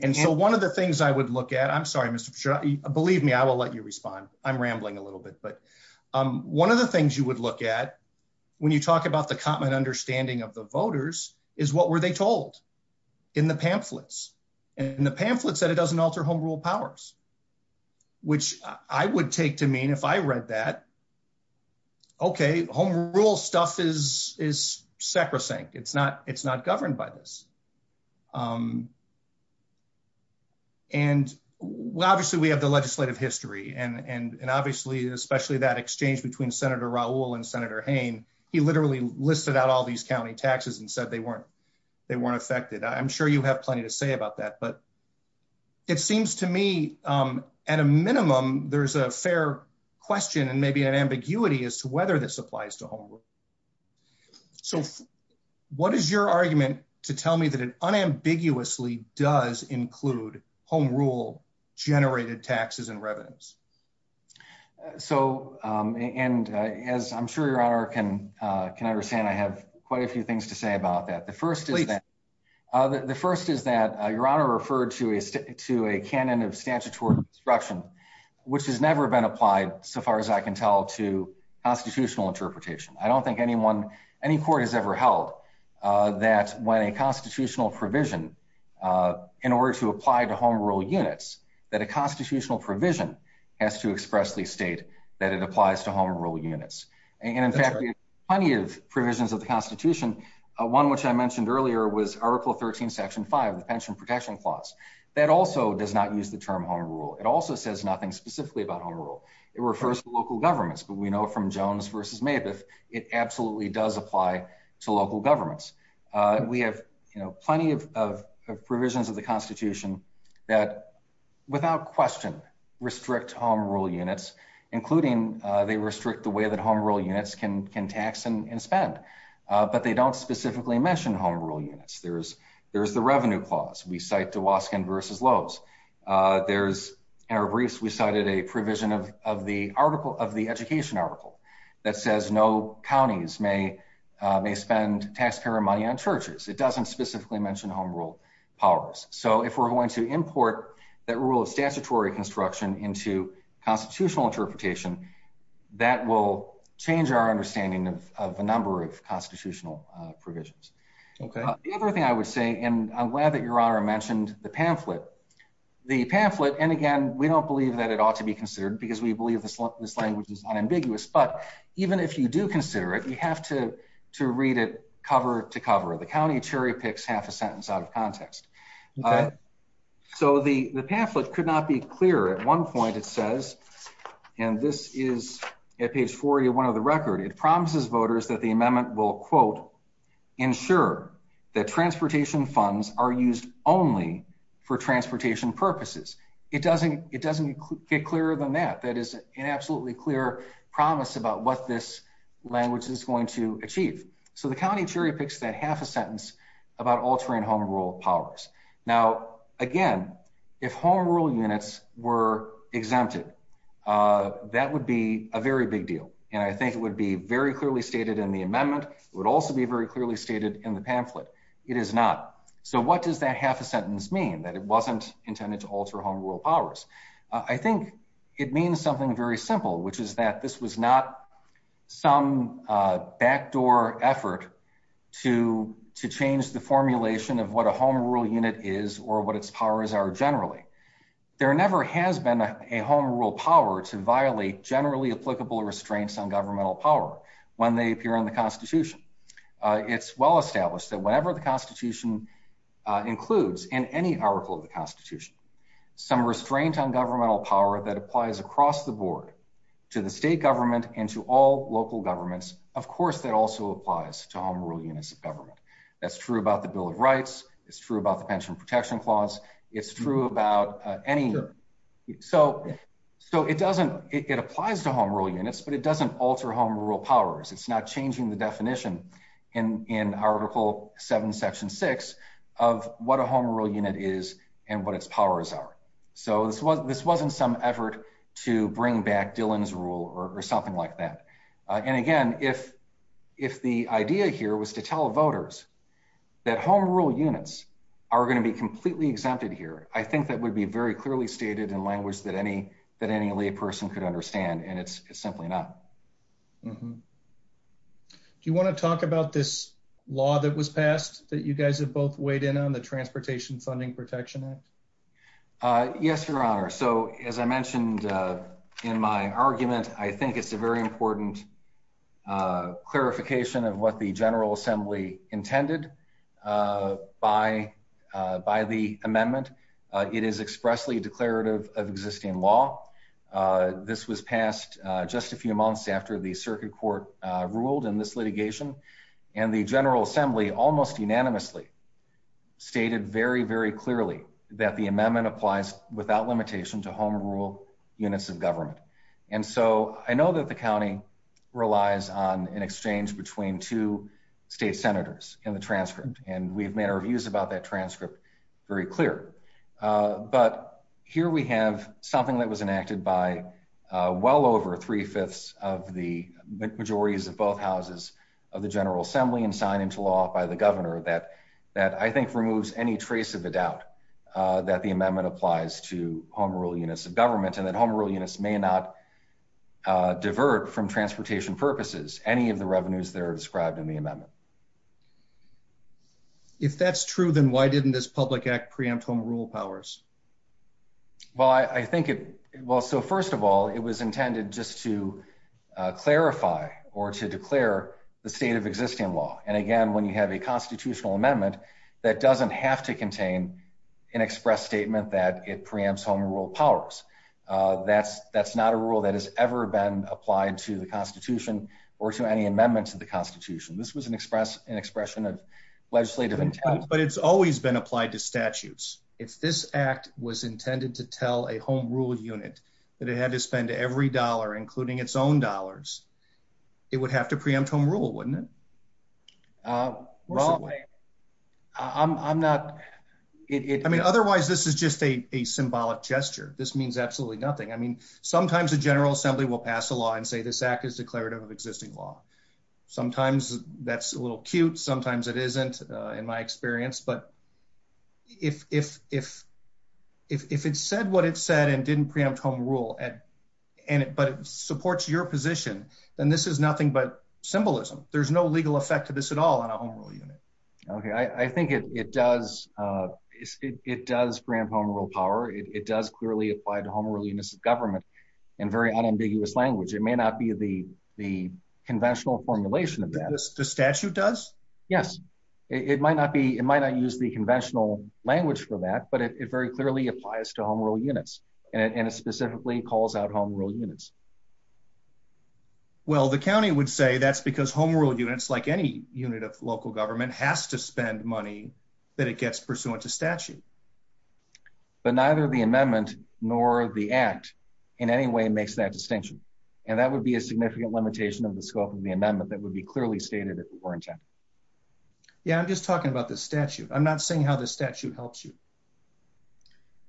And so one of the things I would look at, I'm sorry, Mr. Believe me, I will let you respond. I'm rambling a little bit, but one of the things you would look at when you talk about the common understanding of the voters is what were they told in the pamphlets and the pamphlets that it doesn't alter home rule powers, which I would take to mean if I read that, okay, home rule stuff is sacrosanct. It's not governed by this. Um, and obviously we have the legislative history and obviously, especially that exchange between Senator Raul and Senator Hayne. He literally listed out all these county taxes and said they weren't. They weren't affected. I'm sure you have plenty to say about that, but it seems to me, um, at a minimum, there's a fair question and maybe an ambiguity as to whether this applies to home. So what is your argument to tell me that it unambiguously does include home rule generated taxes and revenues? So, um, and as I'm sure your honor can, uh, can understand, I have quite a few things to say about that. The first is that the first is that your honor referred to a to a canon of statutory instruction, which has never been applied. So far as I can tell to constitutional interpretation, I don't think anyone, any court has ever held, uh, that when a constitutional provision, uh, in order to apply to home rule units, that a constitutional provision has to express the state that it applies to home rule units. And in fact, plenty of provisions of the constitution, one which I mentioned earlier was article 13 section five, the pension protection clause that also does not use the term home rule. It also says nothing specifically about home rule. It refers to local governments, but we know from Jones versus Mavis, it absolutely does apply to local governments. Uh, we have, you know, plenty of provisions of the constitution that without question restrict home rule units, including, uh, they restrict the way that home rule units can, can tax and spend. Uh, but they don't specifically mention home rule units. There's, there's the revenue clause. We cite the Waskin versus Lowe's. Uh, there's, in our briefs, we cited a provision of, of the article of the education article that says no counties may, uh, may spend taxpayer money on churches. It doesn't specifically mention home rule powers. So if we're going to import that rule of statutory construction into constitutional interpretation, that will change our understanding of the number of constitutional provisions. The other thing I would say, and I'm glad that Ronra mentioned the pamphlet, the pamphlet. And again, we don't believe that it ought to be considered because we believe this, this language is unambiguous, but even if you do consider it, you have to, to read it cover to cover the county cherry picks half a sentence out of context. So the, the pamphlet could not be clear at one point it says, and this is at page 41 of the record, it promises voters that the amendment will quote, ensure that only for transportation purposes. It doesn't, it doesn't get clearer than that. That is an absolutely clear promise about what this language is going to achieve. So the county cherry picks that half a sentence about altering home rule powers. Now, again, if home rule units were exempted, uh, that would be a very big deal. And I think it would be very clearly stated in the amendment would also be very clearly stated in the pamphlet. It is not. So what does that half a sentence mean that it wasn't intended to alter home rule powers? I think it means something very simple, which is that this was not some, uh, backdoor effort to, to change the formulation of what a home rule unit is or what its powers are generally. There never has been a home rule power to violate generally applicable restraints on governmental power. When they appear in the constitution, uh, it's well established that whatever the constitution, uh, includes in any article of the constitution, some restraint on governmental power that applies across the board to the state government and to all local governments. Of course, that also applies to home rule units of government. That's true about the bill of rights. It's true about the pension protection clause. It's true about any year. So, so it doesn't, it applies to home rule units, but it doesn't alter home rule powers. It's not changing the definition in, in article seven, section six of what a home rule unit is and what its powers are. So this was, this wasn't some effort to bring back Dylan's rule or something like that. And again, if, if the idea here was to tell voters that home rule units are going to be completely exempted here, I think that would be very clearly stated in language that any, that any lay person could understand. And it's simply not. Do you want to talk about this law that was passed that you guys have both weighed in on the transportation funding protection act? Uh, yes, your honor. So as I mentioned, uh, in my argument, I think it's a very important, uh, clarification of what the general assembly intended, uh, by, uh, by the amendment. Uh, it is expressly declarative of existing law. Uh, this was passed, uh, just a few months after the circuit court, uh, ruled in this litigation and the general assembly almost unanimously stated very, very clearly that the amendment applies without limitation to home rule units of government. And so I know that the County relies on an exchange between two state senators in the transcript. And we've made our views about that well over three fifths of the majorities of both houses of the general assembly and signed into law by the governor that, that I think removes any trace of the doubt, uh, that the amendment applies to home rule units of government and that home rule units may not, uh, divert from transportation purposes, any of the revenues that are described in the amendment. If that's true, then why didn't this public act preempt home rule powers? Well, I think it, well, so first of all, it was intended just to, uh, clarify or to declare the state of existing law. And again, when you have a constitutional amendment that doesn't have to contain an express statement that it preempts home rule powers, uh, that's, that's not a rule that has ever been applied to the constitution or to any amendments to the constitution. This was an express, an expression of legislative intent, but it's always been applied to statutes. If this act was intended to tell a home rule unit that it had to spend every dollar, including its own dollars, it would have to preempt home rule. Wouldn't it? Uh, I'm not, I mean, otherwise this is just a, a symbolic gesture. This means absolutely nothing. I mean, sometimes the general assembly will pass the law and say, this act is declarative of existing law. Sometimes that's a in my experience, but if, if, if, if, if it said what it said and didn't preempt home rule and, and it supports your position, then this is nothing but symbolism. There's no legal effect to this at all in a home rule unit. Okay. I think it, it does, uh, it, it does grant home rule power. It does clearly apply to home or leanness of government and very unambiguous language. It may not be the, the conventional formulation of the statute does. Yes. It might not be, it might not use the conventional language for that, but it very clearly applies to home rule units and it specifically calls out home rule units. Well, the county would say that's because home rule units like any unit of local government has to spend money that it gets pursuant to statute. But neither the amendment nor the act in any way makes that distinction. And that would be a significant limitation of the scope of the amendment that would be clearly stated if it weren't. Yeah. I'm just talking about the statute. I'm not saying how the statute helps you.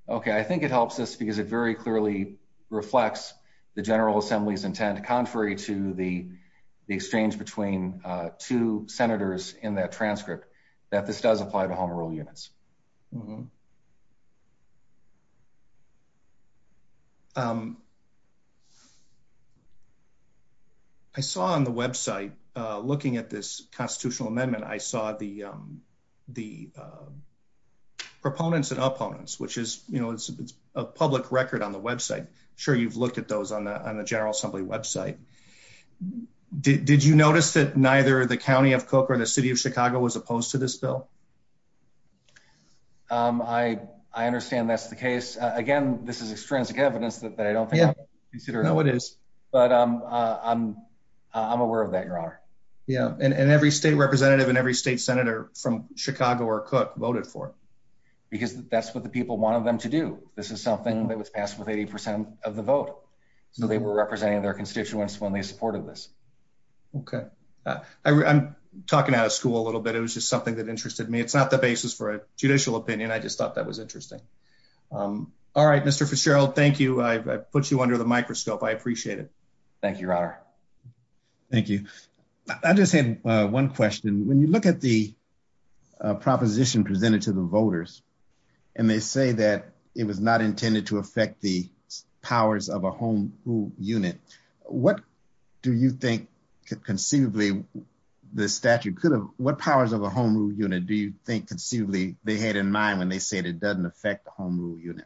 Okay. I think it helps us because it very clearly reflects the general assembly's intent. Contrary to the, the exchange between two senators in that transcript that this does apply to home early years. Mm hmm. Um, I saw on the website, uh, looking at this constitutional amendment, I saw the, um, the, uh, proponents and opponents, which is, you know, it's a public record on the website. Sure. You've looked at those on the general assembly website. Did you notice that neither the county of cook or the city of Chicago was opposed to this bill? Um, I, I understand that's the case. Again, this is extrinsic evidence that they don't consider. No, it is. But, um, I'm, I'm aware of that. Your honor. Yeah. And every state representative and every state senator from Chicago or cook voted for it because that's what the people wanted them to do. This is something that was passed with 80% of the vote. So they were representing their constituents when they supported this. Okay. I'm talking out of school a little bit. It was just something that interested me. It's not the basis for a judicial opinion. I just thought that was interesting. Um, all right, Mr. Fitzgerald, thank you. I put you under the microscope. I appreciate it. Thank you, your honor. Thank you. I just had one question. When you look at the proposition presented to the voters and they say that it was not intended to affect the powers of a home unit, what do you think conceivably the statute could have? What powers of a home rule unit do you think conceivably they had in mind when they said it doesn't affect the home rule unit?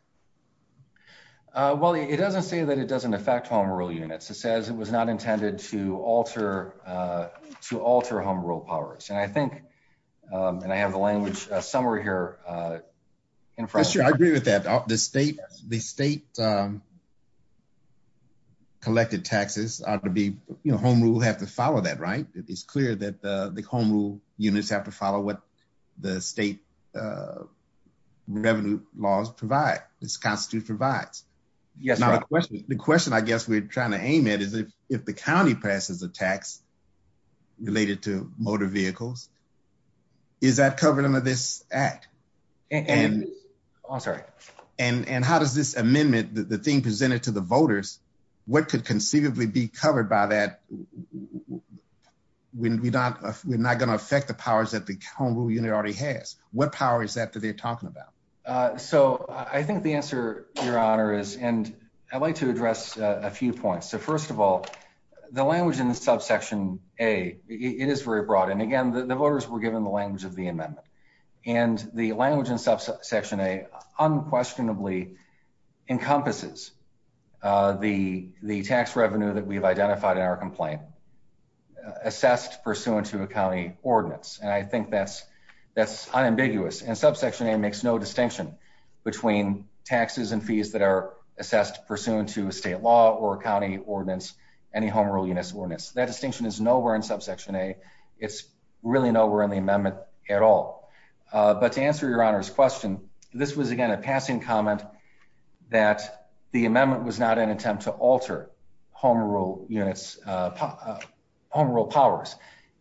Well, it doesn't say that it doesn't affect home rule units. It says it was not intended to alter, uh, to alter home rule powers. And I think, um, and I have the language summary here, uh, in front of you. I agree with that. The state, the state, um, collected taxes to be, you know, home rule have to follow that, right? It is clear that the home rule units have to follow what the state, uh, revenue laws provide. This constitute provides. Yes. Now, the question I guess we're trying to aim it is if the county passes a tax related to motor vehicles, is that covered under this act? And I'm sorry. And how does this amendment that the thing presented to the voters, what could conceivably be covered by that way? We're not. We're not gonna affect the powers that become who you already has. What power is that to be talking about? So I think the answer, Your Honor, is and I'd like to address a few points. So, first of all, the language in the subsection a it is very broad. And again, the voters were given the language of the amendment and the language in subsection a unquestionably encompasses the tax revenue that we've identified in our complaint assessed pursuant to a county ordinance. And I think that's that's unambiguous. And subsection a makes no distinction between taxes and fees that are assessed pursuant to state law or county ordinance. Any home rule units ordinance. That distinction is nowhere in subsection a. It's really nowhere in the amendment at all. But to answer your honor's question, this was again a passing comment that the amendment was not an attempt to alter home rule units, home rule powers.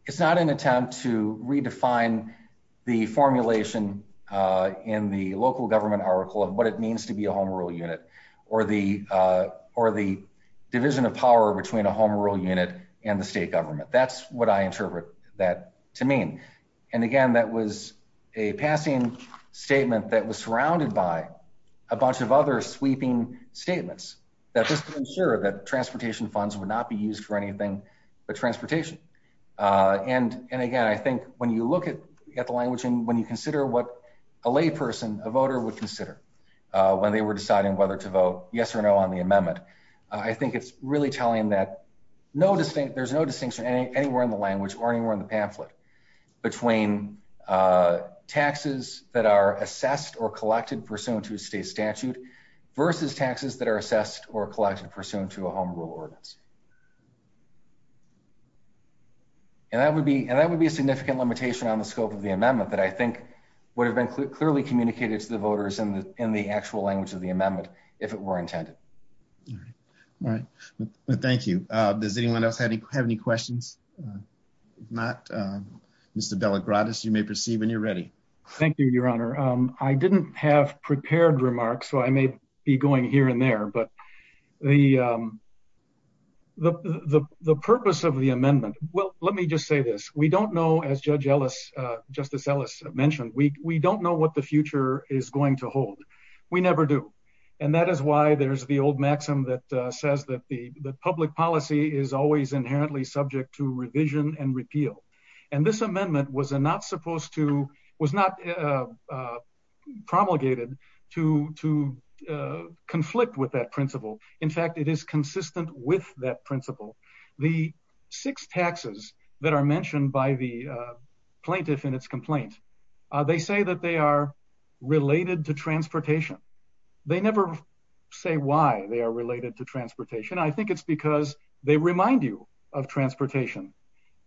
It's not an attempt to redefine the formulation in the local government article of what it means to be a home rule unit or the division of power between a home rule unit and the state government. That's what I interpret that to mean. And again, that was a passing statement that was surrounded by a bunch of other sweeping statements that was to ensure that transportation funds would not be used for anything but transportation. Uh, and again, I think when you look at the language and when you consider what a lay person, a voter would consider when they were deciding whether to vote yes or no on the amendment, I think it's really telling that no distinct. There's no distinction anywhere in the pamphlet between, uh, taxes that are assessed or collected pursuant to state statute versus taxes that are assessed or collected pursuant to a home rule ordinance. And that would be and that would be a significant limitation on the scope of the amendment that I think would have been clearly communicated to the voters and in the actual language of the amendment if it were intended. All right. Thank you. Does anyone else have any questions? Uh, not, uh, Mr Delegates. You may proceed when you're ready. Thank you, Your Honor. I didn't have prepared remarks, so I may be going here and there. But the, um, the purpose of the amendment. Well, let me just say this. We don't know. As Judge Ellis Justice Ellis mentioned, we don't know what the future is going to be. Old maximum that says that the public policy is always inherently subject to revision and repeal. And this amendment was not supposed to was not, uh, promulgated to to, uh, conflict with that principle. In fact, it is consistent with that principle. The six taxes that are mentioned by the plaintiff in its complaints, they say that they are related to transportation. They never say why they are related to transportation. I think it's because they remind you of transportation.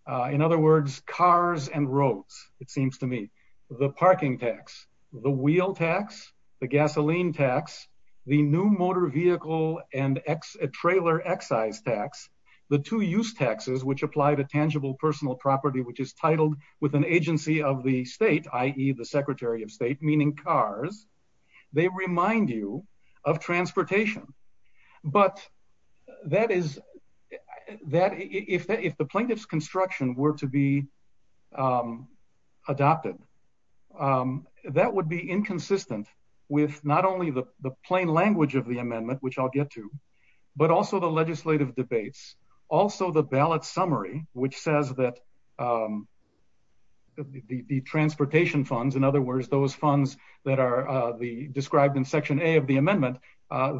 Uh, in other words, cars and roads. It seems to me the parking tax, the wheel tax, the gasoline tax, the new motor vehicle and X. A trailer excise tax. The two use taxes which applied a tangible personal property, which is titled with an agency of the state, i.e. secretary of state, meaning cars. They remind you of transportation. But that is that if the plaintiff's construction were to be, um, adopted, um, that would be inconsistent with not only the plain language of the amendment, which I'll get to, but also the legislative debates. Also, the ballot summary, which in other words, those funds that are the described in section a of the amendment,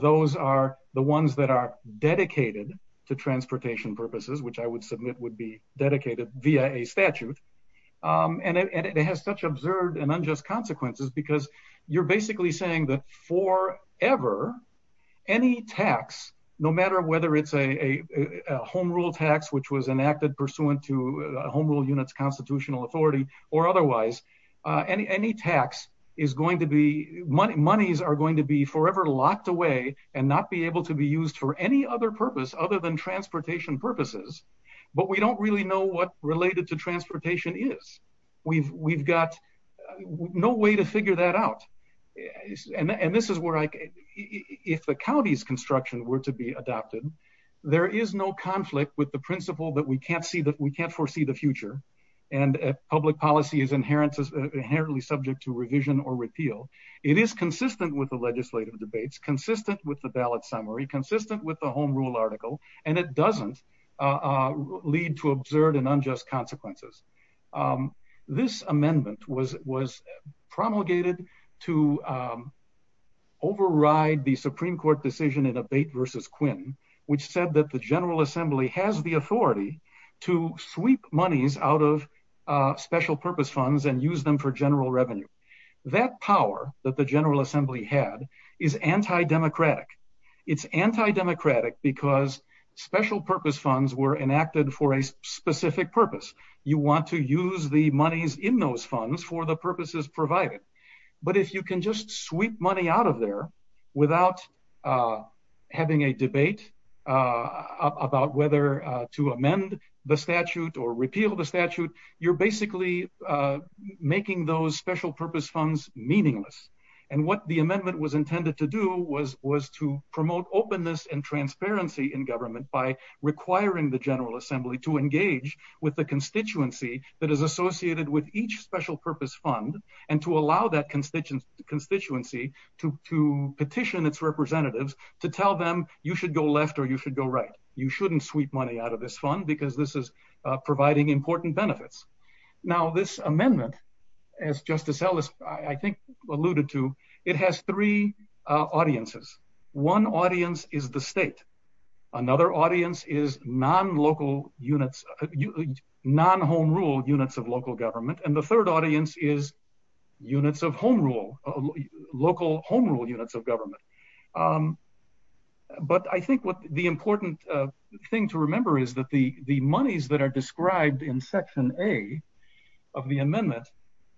those are the ones that are dedicated to transportation purposes, which I would submit would be dedicated via a statute. Um, and it has such absurd and unjust consequences because you're basically saying that for ever any tax, no matter whether it's a home rule tax, which was enacted pursuant to home rule units, constitutional authority or otherwise, any tax is going to be money. Monies are going to be forever locked away and not be able to be used for any other purpose other than transportation purposes. But we don't really know what related to transportation is. We've we've got no way to figure that out. And this is where, like, if the county's construction were to be adopted, there is no conflict with the principle that we can't see that we can't foresee the future. And public policy is inherently inherently subject to revision or repeal. It is consistent with the legislative debates, consistent with the ballot summary, consistent with the home rule article, and it doesn't, uh, lead to absurd and unjust consequences. Um, this amendment was was promulgated to, um, override the Supreme Court decision in a bait versus Quinn, which said that the to sweep monies out of, uh, special purpose funds and use them for general revenue. That power that the General Assembly had is anti democratic. It's anti democratic because special purpose funds were enacted for a specific purpose. You want to use the monies in those funds for the purposes provided. But if you can just sweep money out of there without, uh, having a debate, uh, about whether to amend the statute or repeal the statute, you're basically, uh, making those special purpose funds meaningless. And what the amendment was intended to do was was to promote openness and transparency in government by requiring the General Assembly to engage with the constituency that is associated with each special purpose fund and to allow that constituent constituency to petition its representatives to tell them you should go left or you should go right. You shouldn't sweep money out of this fund because this is providing important benefits. Now, this amendment, as Justice Ellis, I think alluded to, it has three audiences. One audience is the state. Another audience is non local units, non home rule units of local government. And the third audience is units of home rule, local home units of government. Um, but I think what the important thing to remember is that the monies that are described in section A of the amendment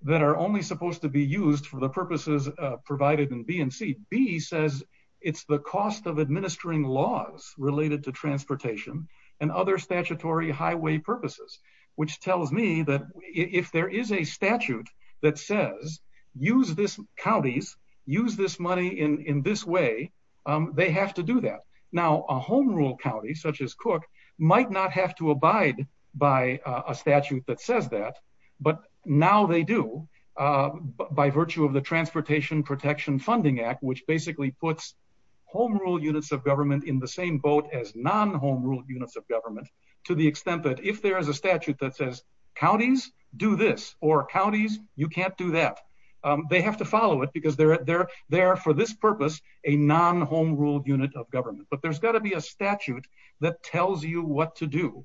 that are only supposed to be used for the purposes provided in B and C B says it's the cost of administering laws related to transportation and other statutory highway purposes, which tells me that if there is a statute that says, use this counties, use this money in this way. Um, they have to do that. Now, a home rule county such as Cook might not have to abide by a statute that says that, but now they do, uh, by virtue of the Transportation Protection Funding Act, which basically puts home rule units of government in the same boat as non home rule units of government to the extent that if there is a statute that says counties do this or counties, you can't do that. Um, they have to follow it because they're there. They're for this purpose, a non home ruled unit of government. But there's got to be a statute that tells you what to do.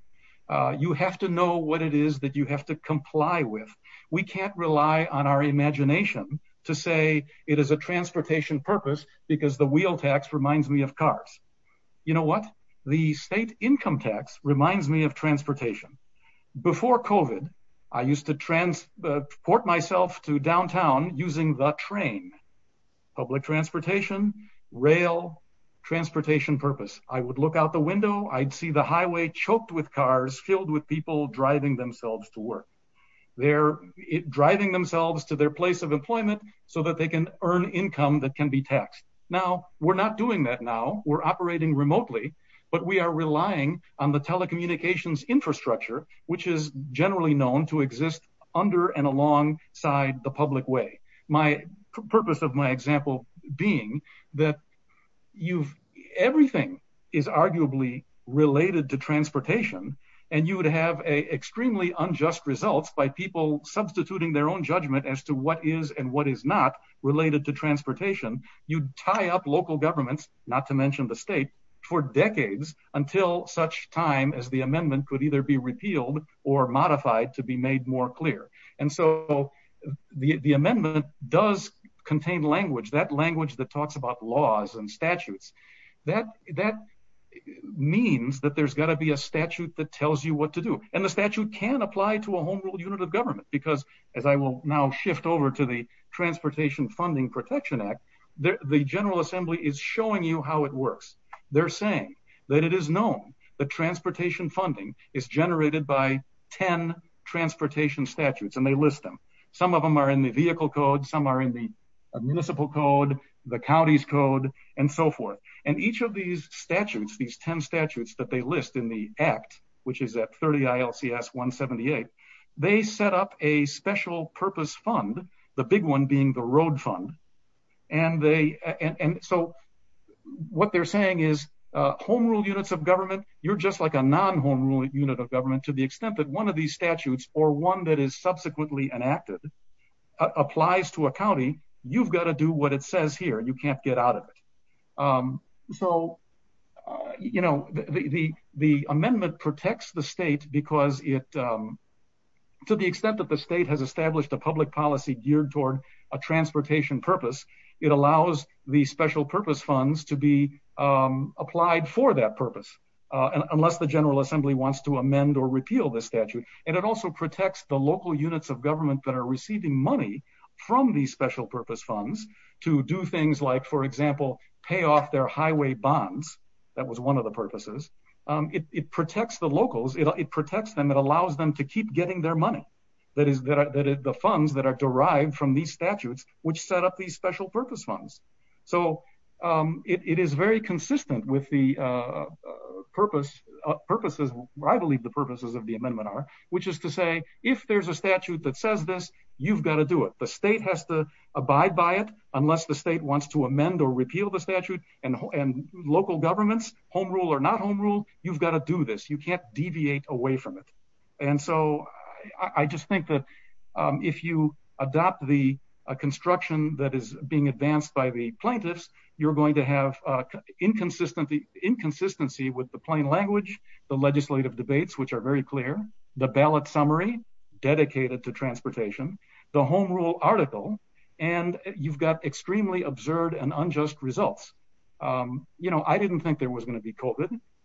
You have to know what it is that you have to comply with. We can't rely on our imagination to say it is a transportation purpose because the wheel tax reminds me of cars. You know before covid I used to transport myself to downtown using the train, public transportation, rail transportation purpose. I would look out the window. I'd see the highway choked with cars filled with people driving themselves to work. They're driving themselves to their place of employment so that they can earn income that can be taxed. Now we're not doing that. Now we're communications infrastructure, which is generally known to exist under and alongside the public way. My purpose of my example being that you've everything is arguably related to transportation and you would have a extremely unjust results by people substituting their own judgment as to what is and what is not related to transportation. You tie up local governments, not to mention the state for decades until such time as the amendment could either be repealed or modified to be made more clear. And so the amendment does contain language, that language that talks about laws and statutes that that means that there's got to be a statute that tells you what to do. And the statute can apply to a whole unit of government because as I will now shift over to the Transportation Funding Protection Act, the General Assembly is showing you how it works. They're saying that it is known that transportation funding is generated by 10 transportation statutes, and they list them. Some of them are in the vehicle code, some are in the municipal code, the county's code, and so forth. And each of these statutes, these 10 statutes that they list in the act, which is at 30 ILCS 178, they set up a what they're saying is home rule units of government. You're just like a non home rule unit of government to the extent that one of these statutes or one that is subsequently enacted applies to a county. You've got to do what it says here. You can't get out of it. Um, so, you know, the amendment protects the state because it, um, to the extent that the state has established a public policy geared toward a transportation purpose, it allows the special purpose funds to be applied for that purpose unless the General Assembly wants to amend or repeal the statute. And it also protects the local units of government that are receiving money from these special purpose funds to do things like, for example, pay off their highway bonds. That was one of the purposes. It protects the locals. It protects them. It allows them to keep getting their money. That is that the funds that are derived from these purpose funds. So, um, it is very consistent with the, uh, purpose purposes. I believe the purposes of the amendment are, which is to say, if there's a statute that says this, you've got to do it. The state has to abide by it unless the state wants to amend or repeal the statute and local government's home rule or not home rule. You've got to do this. You can't deviate away from it. And so I just think that if you adopt the construction that is being advanced by the plaintiffs, you're going to have inconsistency, inconsistency with the plain language, the legislative debates, which are very clear. The ballot summary dedicated to transportation, the home rule article, and you've got extremely absurd and unjust results. Um, you know, I didn't think there was gonna be cold,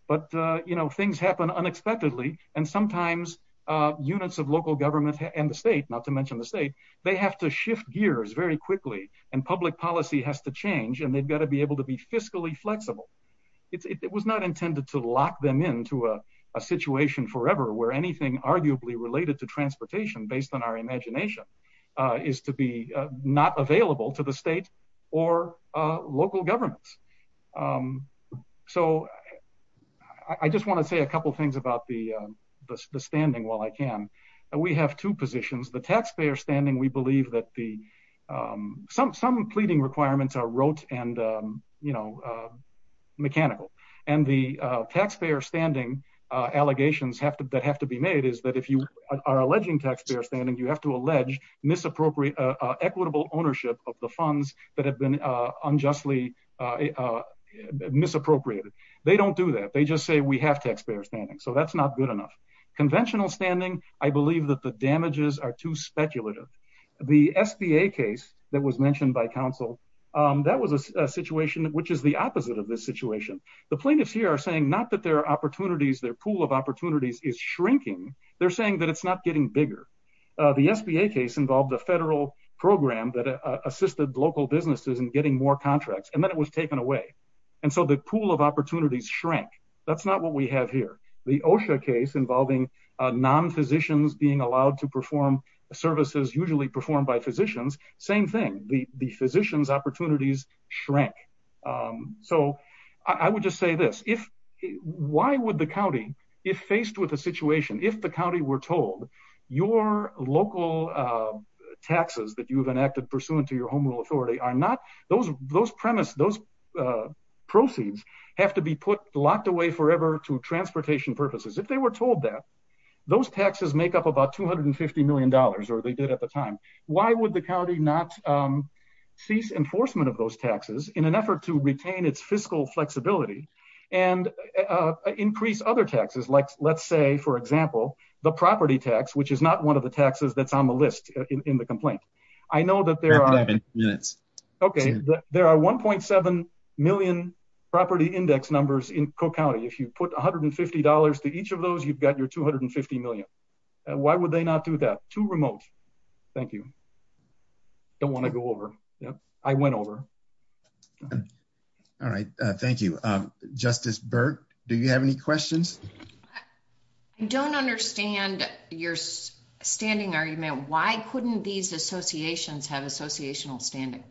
but you know, things happen unexpectedly. And sometimes, uh, units of local government and the state, not to mention the state, they have to shift gears very quickly, and public policy has to change, and they've got to be able to be fiscally flexible. It was not intended to lock them into a situation forever, where anything arguably related to transportation based on our imagination, uh, is to be not available to the state or local governments. Um, so I just want to say a couple things about the standing while I can. We have two positions. The taxpayer standing. We believe that the, um, some some pleading requirements are wrote and, um, you know, uh, mechanical and the taxpayer standing allegations have that have to be made is that if you are alleging taxpayer standing, you have to allege misappropriate equitable ownership of the funds that have been unjustly, uh, misappropriated. They don't do that. They just say we have taxpayer standing, so that's not good enough. Conventional standing. I too speculative. The S. B. A. Case that was mentioned by Council. Um, that was a situation which is the opposite of this situation. The plaintiffs here are saying not that there are opportunities. Their pool of opportunities is shrinking. They're saying that it's not getting bigger. The S. B. A. Case involved the federal program that assisted local businesses and getting more contracts, and then it was taken away. And so the pool of opportunities shrink. That's not what we have here. The OSHA case involving non physicians being allowed to perform services usually performed by physicians. Same thing. The physicians opportunities shrink. Um, so I would just say this. If why would the county if faced with a situation if the county were told your local, uh, taxes that you've enacted pursuant to your home rule authority are not those those premise. Those, uh, proceeds have to be put locked away forever to transportation purposes. If they were told that those taxes make up about $250 million, or they did at the time. Why would the county not, um, cease enforcement of those taxes in an effort to retain its fiscal flexibility and, uh, increased other taxes? Like, let's say, for example, the property tax, which is not one of the taxes that's on the list in the complaint. I know that there are minutes. Okay, there are 1.7 million property index numbers in Co County. If you put $150 to each of those, you've got your $250 million. Why would they not do that to remote? Thank you. Don't want to go over. I went over. All right. Thank you, Justice Burke. Do you have any questions? I don't understand your standing argument. Why couldn't these associations have associational standing?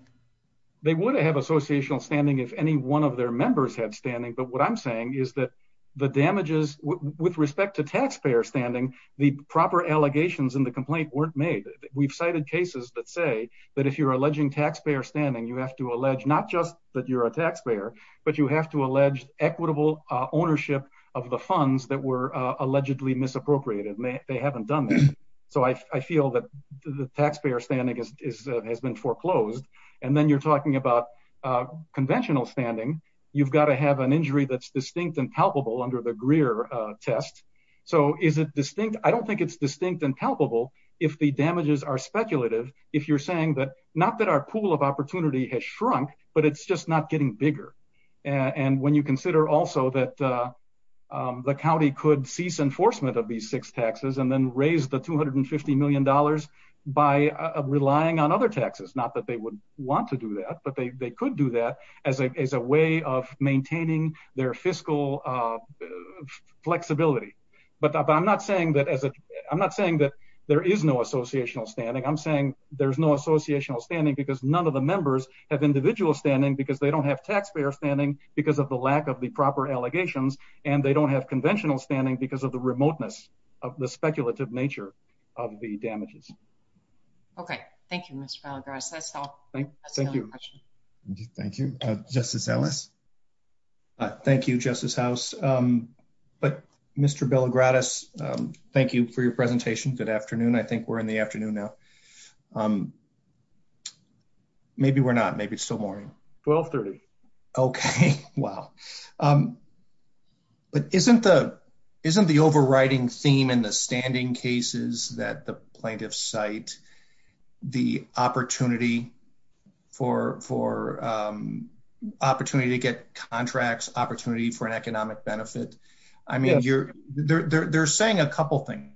They would have associational standing if any one of their members have standing. But what I'm saying is the damages with respect to taxpayer standing the proper allegations in the complaint weren't made. We've cited cases that say that if you're alleging taxpayer standing, you have to allege not just that you're a taxpayer, but you have to allege equitable ownership of the funds that were allegedly misappropriated. They haven't done this. So I feel that the taxpayer standing is has been foreclosed. And then you're talking about conventional standing. You've got to have an injury that's distinct and palpable under the Greer test. So is it distinct? I don't think it's distinct and palpable if the damages are speculative. If you're saying that not that our pool of opportunity has shrunk, but it's just not getting bigger. And when you consider also that, uh, the county could cease enforcement of these six taxes and then raise the $250 million by relying on other taxes. Not that they would want to do that, but they could do that as a as a way of maintaining their fiscal, uh, flexibility. But I'm not saying that as a I'm not saying that there is no associational standing. I'm saying there's no associational standing because none of the members have individual standing because they don't have taxpayer standing because of the lack of the proper allegations, and they don't have conventional standing because of the remoteness of the speculative nature of the damages. Okay, thank you, Mr Bellagrass. That's all. Thank you. Thank you, Justice Ellis. Thank you, Justice House. Um, but Mr Bellagrass, um, thank you for your presentation. Good afternoon. I think we're in the afternoon now. Um, maybe we're not. Maybe it's still morning. 12 30. Okay. Wow. Um, but isn't the isn't the overriding theme in the standing cases that the plaintiff's site the opportunity for for, um, opportunity to get contracts opportunity for an economic benefit? I mean, you're they're saying a couple things.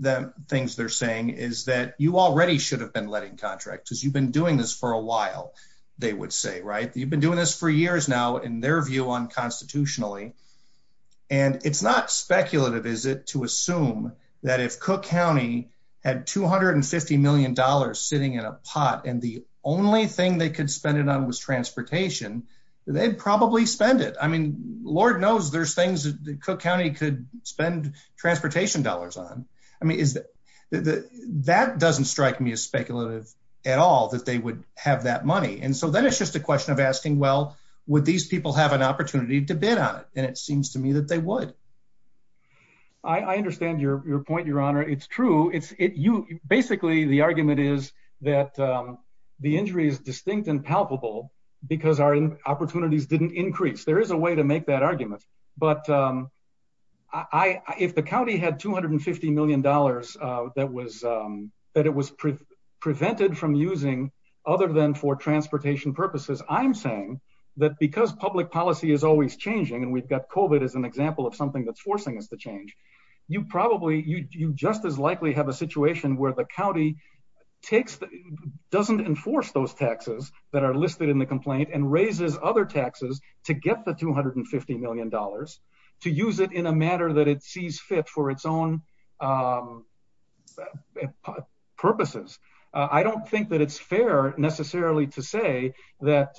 The things they're saying is that you already should have been letting contracts because you've been doing this for a while, they would say, right? You've been doing this for years now, in their view on constitutionally. And it's not speculative. Is it to assume that if Cook County had $250 million sitting in a pot, and the only thing they could spend it on was transportation, they'd probably spend it. I mean, Lord knows there's things that Cook County could spend transportation dollars on. I mean, that doesn't strike me as speculative at all that they would have that money. And so then it's just a question of asking, Well, would these people have an opportunity to bid on it? And it seems to me that they would. I understand your point, Your Honor. It's true. It's you. Basically, the argument is that the injury is distinct and palpable because our opportunities didn't increase. There is a way to make that argument. But, um, I if the county had $250 million that was that it was prevented from using other than for transportation purposes, I'm saying that because public policy is always changing, and we've got Covid is an example of something that's forcing us to change. You probably you just as likely have a situation where the county takes doesn't enforce those taxes that are listed in the complaint and raises other taxes to get the $250 million to use it in a matter that it necessarily to say that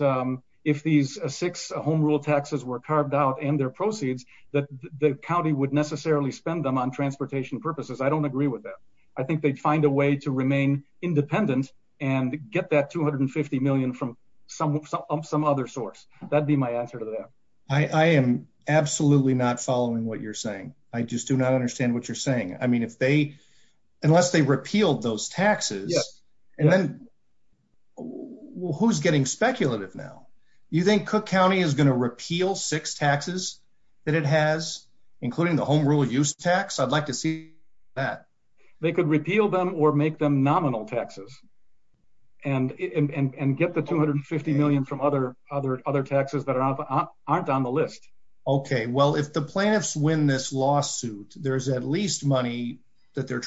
if these six home rule taxes were carved out and their proceeds that the county would necessarily spend them on transportation purposes. I don't agree with that. I think they'd find a way to remain independent and get that $250 million from some some other source. That'd be my answer to that. I am absolutely not following what you're saying. I just do not understand what you're saying. I mean, if they unless they repealed those taxes, and then who's getting speculative now? You think Cook County is gonna repeal six taxes that it has, including the home rule use tax? I'd like to see that they could repeal them or make them nominal taxes and get the $250 million from other other other taxes that aren't on the list. Okay, well, if the plants win this lawsuit, there's at least money that they're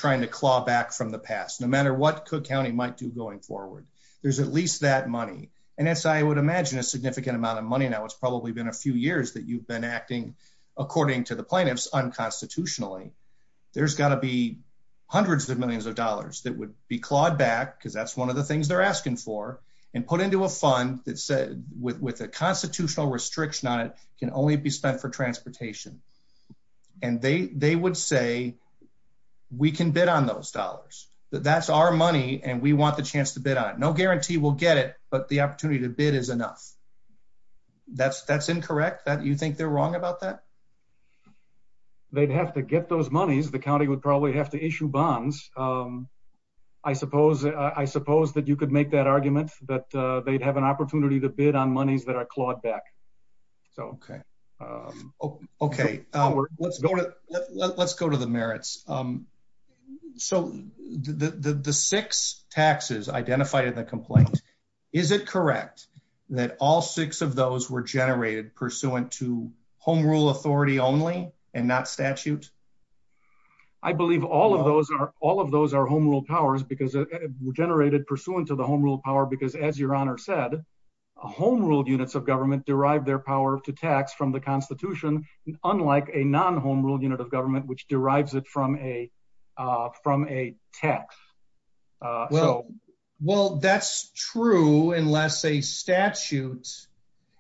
what Cook County might do going forward. There's at least that money, and that's I would imagine a significant amount of money that was probably been a few years that you've been acting according to the plaintiffs unconstitutionally. There's got to be hundreds of millions of dollars that would be clawed back because that's one of the things they're asking for and put into a fund that said with a constitutional restriction on it can only be spent for money and we want the chance to bid on no guarantee we'll get it but the opportunity to bid is enough that's that's incorrect that you think they're wrong about that they'd have to get those monies the county would probably have to issue bonds I suppose I suppose that you could make that argument that they'd have an opportunity to bid on monies that are clawed back okay okay let's go to let's go to the merits so the the six taxes identified in the complaint is it correct that all six of those were generated pursuant to home rule authority only and not statute I believe all of those are all of those are home rule powers because it generated pursuant to the home rule power because as your honor said a home ruled units of government derived their power to tax from the Constitution unlike a non home rule unit of government which derives it from a from a tax well well that's true unless a statute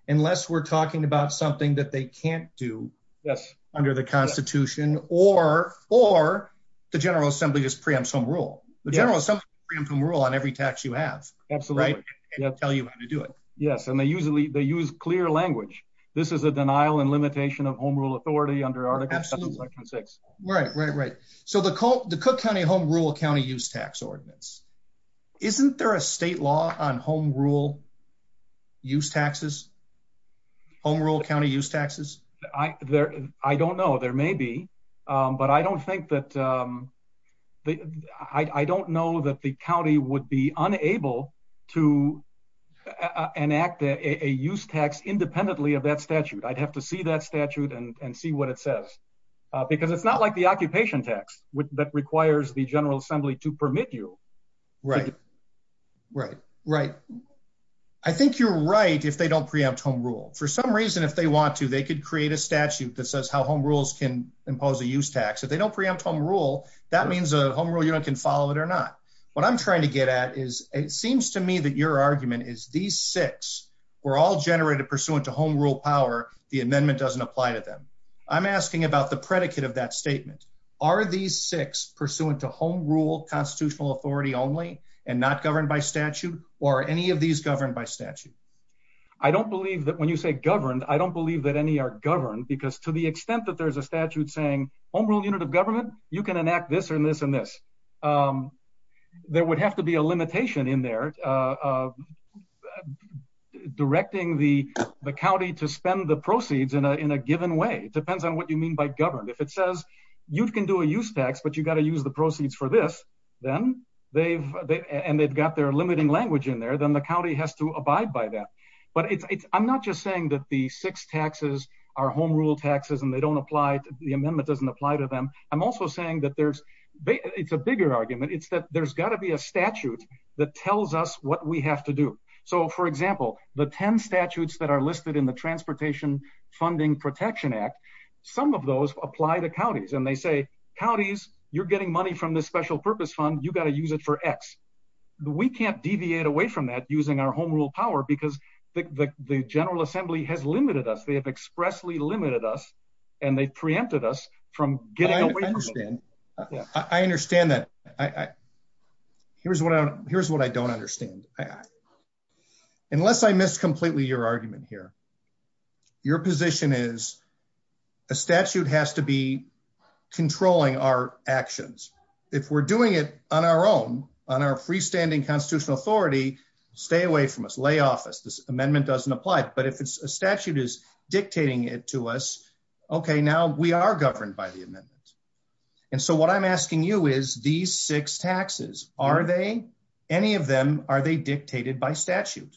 unless we're talking about something that they can't do yes under the Constitution or or the General Assembly just preempt some rule the General Assembly rule on every tax you have that's the right yeah tell you how and they usually they use clear language this is a denial and limitation of home rule authority under article 6 right right right so the coat the cook County home rule County use tax ordinance isn't there a state law on home rule use taxes home rule County use taxes I there I don't know there may be but I don't think that I don't know that the county would be unable to enact a use tax independently of that statute I'd have to see that statute and see what it says because it's not like the occupation tax which that requires the General Assembly to permit you right right right I think you're right if they don't preempt home rule for some reason if they want to they could create a statute that says how home rules can impose a use tax if they don't preempt home rule that means a home rule unit can follow it or not what I'm trying to we're all generated pursuant to home rule power the amendment doesn't apply to them I'm asking about the predicate of that statement are these six pursuant to home rule constitutional authority only and not governed by statute or any of these governed by statute I don't believe that when you say governed I don't believe that any are governed because to the extent that there's a statute saying home rule unit of government you can enact this or in this in this there would have to be a limitation in there directing the the county to spend the proceeds in a in a given way it depends on what you mean by governed if it says you can do a use tax but you got to use the proceeds for this then they've and they've got their limiting language in there then the county has to abide by that but it's I'm not just saying that the six taxes are home rule taxes and they don't apply the amendment doesn't apply to them I'm also saying that there's it's a bigger argument it's that there's got to be a statute that tells us what we have to do so for example the ten statutes that are listed in the Transportation Funding Protection Act some of those apply to counties and they say counties you're getting money from this special purpose fund you got to use it for X we can't deviate away from that using our home rule power because the General Assembly has limited us they have expressly limited us and they preempted us from getting I understand that I here's what I'm here's what I don't understand unless I missed completely your argument here your position is a statute has to be controlling our actions if we're doing it on our own on our freestanding constitutional authority stay away from us lay office this amendment doesn't apply but if it's a statute is dictating it to us okay now we are governed by the amendment and so what I'm asking you is these six taxes are they any of them are they dictated by statute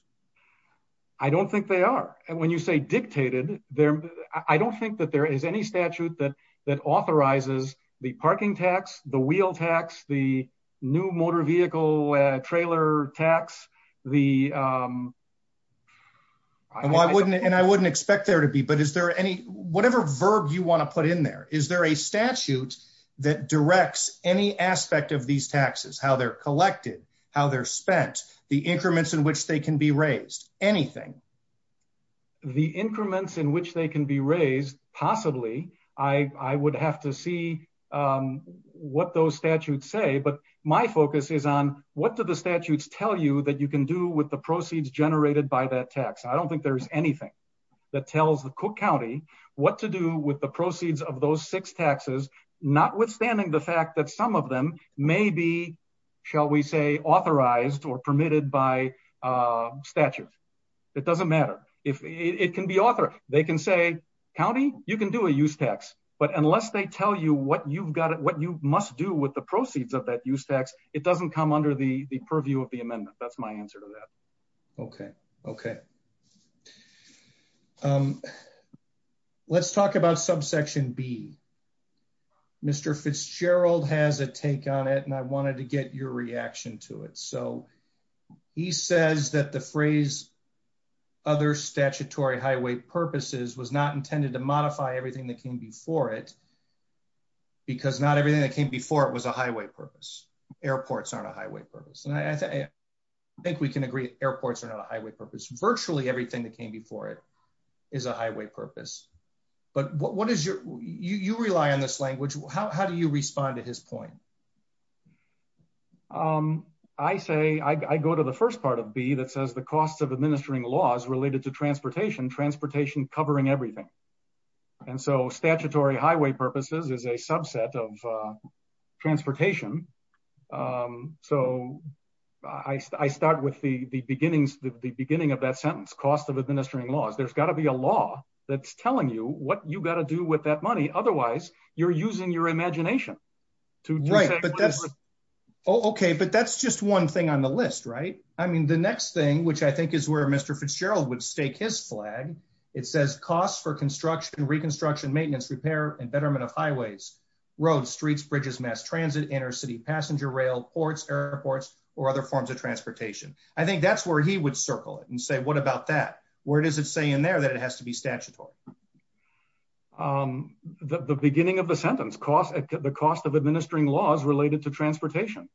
I don't think they are and when you say dictated there I don't think that there is any statute that that authorizes the parking tax the wheel tax the new motor vehicle trailer tax the I wouldn't and I wouldn't expect there to be but is there any whatever verb you want to put in there is there a statute that directs any aspect of these taxes how they're collected how they're spent the increments in which they can be raised anything the increments in which they can be raised possibly I would have to see what those statutes say but my focus is on what do the statutes tell you that you can do with the proceeds generated by that tax I don't think there's anything that tells the Cook County what to do with the proceeds of those six taxes notwithstanding the fact that some of them may be shall we say authorized or permitted by statute it doesn't matter if it can be author they can say county you can do a use tax but unless they tell you what you've got it what you must do with the proceeds of that use tax it doesn't come under the the purview of the amendment that's my answer to that okay okay let's talk about subsection B mr. Fitzgerald has a take on it and I wanted to get your reaction to it so he says that the phrase other statutory highway purposes was not intended to modify everything that came before it because not everything that came before it was a airports on a highway purpose and I think we can agree airports and a highway purpose virtually everything that came before it is a highway purpose but what is your you rely on this language how do you respond to his point I say I go to the first part of B that says the cost of administering laws related to transportation transportation covering everything and so statutory highway purposes is a subset of transportation so I start with the beginnings the beginning of that sentence cost of administering laws there's got to be a law that's telling you what you got to do with that money otherwise you're using your imagination to write but that's okay but that's just one thing on the list right I mean the next thing which I think is where mr. Fitzgerald would stake his flag it says cost for construction reconstruction maintenance repair and betterment of highways roads streets bridges mass transit inner-city passenger rail ports airports or other forms of transportation I think that's where he would circle it and say what about that where does it say in there that it has to be statutable the beginning of the sentence cost at the cost of administering laws related to transportation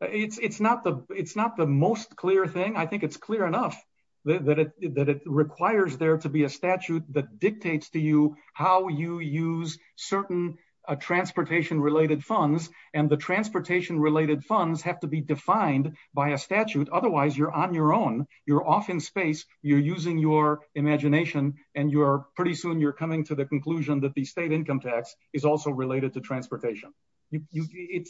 it's not the it's not the most clear thing I think it's clear enough that it requires there to be a use certain a transportation related funds and the transportation related funds have to be defined by a statute otherwise you're on your own you're off in space you're using your imagination and you're pretty soon you're coming to the conclusion that the state income tax is also related to transportation it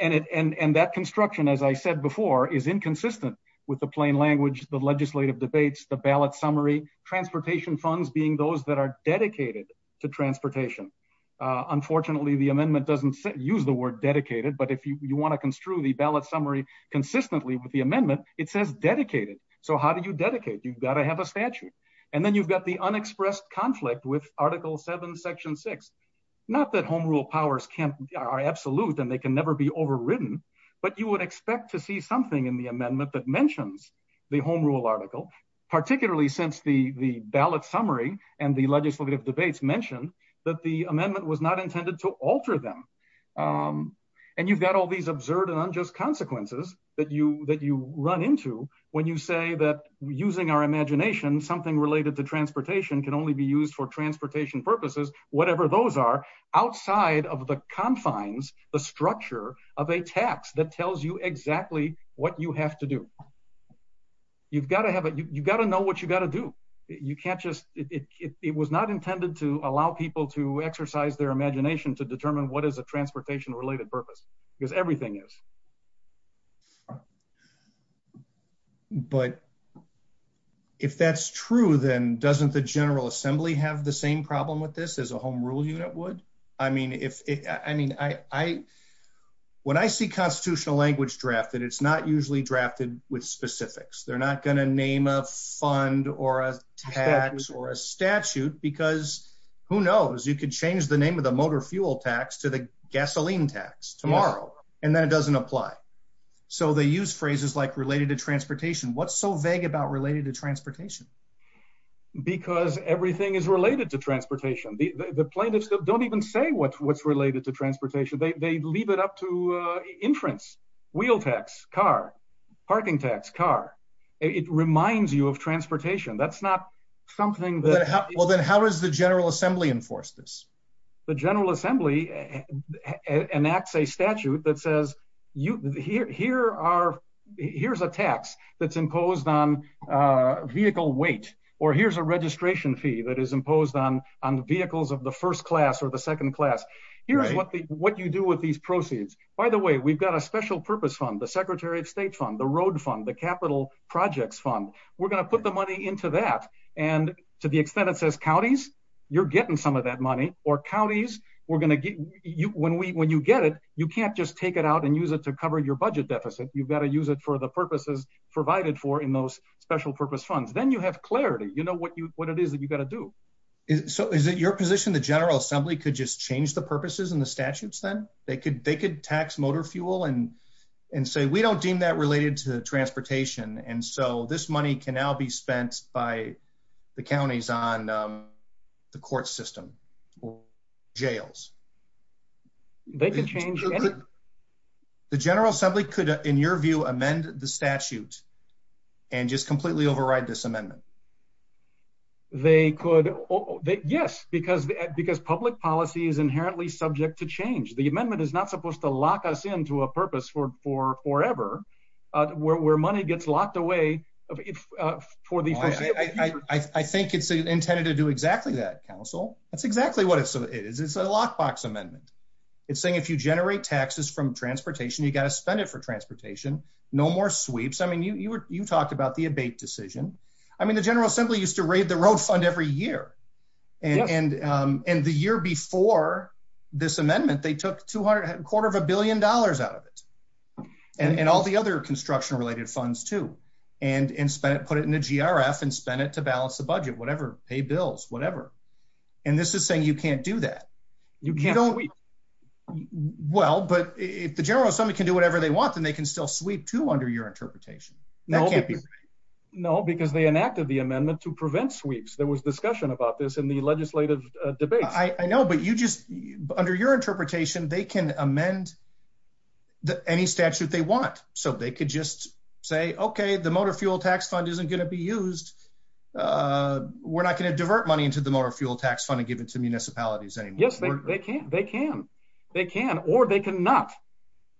and it and and that construction as I said before is inconsistent with the plain language the legislative debates the ballot summary transportation funds being those that are dedicated to transportation unfortunately the amendment doesn't use the word dedicated but if you want to construe the ballot summary consistently with the amendment it says dedicated so how did you dedicate you've got to have a statute and then you've got the unexpressed conflict with article 7 section 6 not that home rule powers can't are absolute and they can never be overridden but you would expect to see something in the amendment that and the legislative debates mentioned that the amendment was not intended to alter them and you've got all these absurd and unjust consequences that you that you run into when you say that using our imagination something related to transportation can only be used for transportation purposes whatever those are outside of the confines the structure of a tax that tells you exactly what you have to do you've got to have it you've got to know what you got to do you can't just it was not intended to allow people to exercise their imagination to determine what is the transportation related purpose because everything is but if that's true then doesn't the General Assembly have the same problem with this as a home rule unit would I mean if I mean I when I see constitutional language drafted it's not usually drafted with specifics they're not going to name a fund or a tax or a statute because who knows you could change the name of the motor fuel tax to the gasoline tax tomorrow and that doesn't apply so they use phrases like related to transportation what's so vague about related to transportation because everything is related to transportation the plaintiffs don't even say what's what's related to transportation they leave it up to entrance wheel tax car parking tax car it reminds you of transportation that's not something that well then how does the General Assembly enforce this the General Assembly enacts a statute that says you here are here's a tax that's imposed on vehicle weight or here's a registration fee that is imposed on on the vehicles of the first class or the second class here's what the what you do with these proceeds by the way we've got a special-purpose fund the Secretary of State's on the road fund the capital projects fund we're going to put the money into that and to the extent it says counties you're getting some of that money or counties we're going to get you when we when you get it you can't just take it out and use it to cover your budget deficit you've got to use it for the purposes provided for in those special-purpose funds then you have clarity you know what you what it is that you got to do so is it your position the General Assembly could just change the purposes and the statutes then they could they could tax motor fuel and and say we don't deem that related to transportation and so this money can now be spent by the counties on the court system or jails they can change the General Assembly could in your view amend the statute and just completely override this amendment they could oh yes because because public policy is inherently subject to change the amendment is not supposed to lock us in to a purpose for forever where money gets locked away I think it's intended to do exactly that counsel that's exactly what it is it's a lock box amendment it's saying if you generate taxes from transportation you got to spend it for transportation no more sweeps I mean you were you talked about the abate decision I mean the General Assembly used to raid the road every year and and and the year before this amendment they took two hundred quarter of a billion dollars out of it and all the other construction related funds to and and spent put it in the GRF and spend it to balance the budget whatever pay bills whatever and this is saying you can't do that you can't only well but if the General Assembly can do whatever they want and they can still sweep to under your interpretation no no because they enacted the amendment to there was discussion about this in the legislative debate I know but you just under your interpretation they can amend that any statute they want so they could just say okay the motor fuel tax fund isn't going to be used we're not going to divert money into the motor fuel tax fund and give it to municipalities anything they can't they can they can or they can not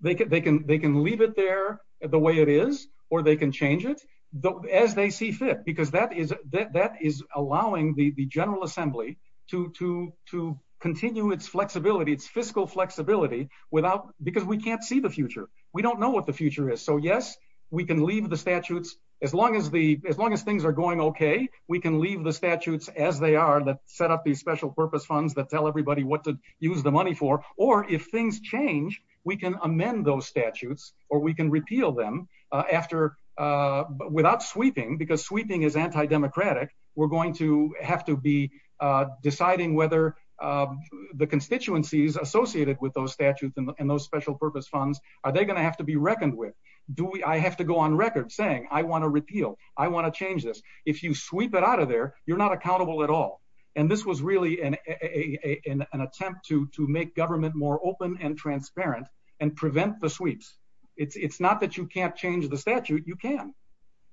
they could they can they can leave it there the way it is or they can change it though as they see fit because that is that that is allowing the the General Assembly to to to continue its flexibility its fiscal flexibility without because we can't see the future we don't know what the future is so yes we can leave the statutes as long as the as long as things are going okay we can leave the statutes as they are that set up these special-purpose funds that tell everybody what to use the money for or if things change we can amend those statutes or we can repeal them after but without sweeping because sweeping is anti-democratic we're going to have to be deciding whether the constituencies associated with those statutes and those special-purpose funds are they going to have to be reckoned with do we I have to go on record saying I want to repeal I want to change this if you sweep it out of there you're not accountable at all and this was really an attempt to to make government more open and transparent and prevent the can't change the statute you can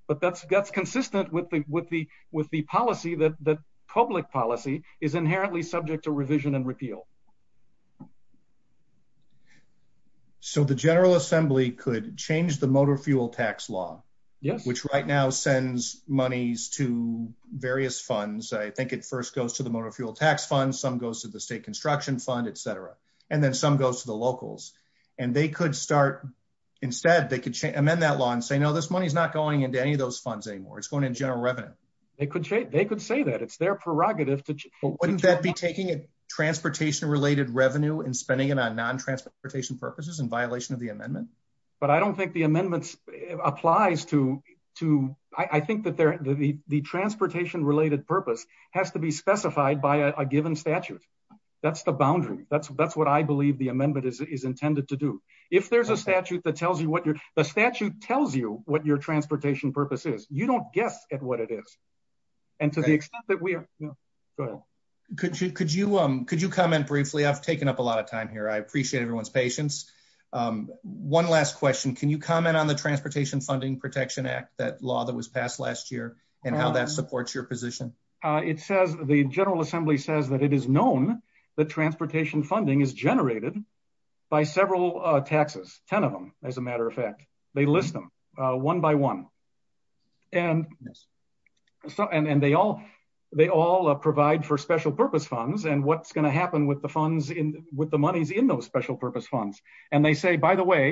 but that's that's consistent with the with the with the policy that the public policy is inherently subject to revision and repeal so the General Assembly could change the motor fuel tax law yes which right now sends monies to various funds I think it first goes to the motor fuel tax fund some goes to the state construction fund etc and then some goes to the locals and they could start instead they could amend that law and say no this money is not going into any of those funds anymore it's going in general revenue they could say they could say that it's their prerogative but wouldn't that be taking a transportation related revenue and spending it on non transportation purposes in violation of the amendment but I don't think the amendments applies to to I think that there the transportation related purpose has to be specified by a given statute that's the believe the amendment is intended to do if there's a statute that tells you what your statute tells you what your transportation purpose is you don't guess at what it is and to the extent that we go could you could you um could you come in briefly I've taken up a lot of time here I appreciate everyone's patience one last question can you comment on the Transportation Funding Protection Act that law that was passed last year and how that supports your position it says the General Assembly says that it is known the transportation funding is generated by several taxes ten of them as a matter of fact they list them one by one and so and and they all they all provide for special purpose funds and what's going to happen with the funds in with the money's in those special purpose funds and they say by the way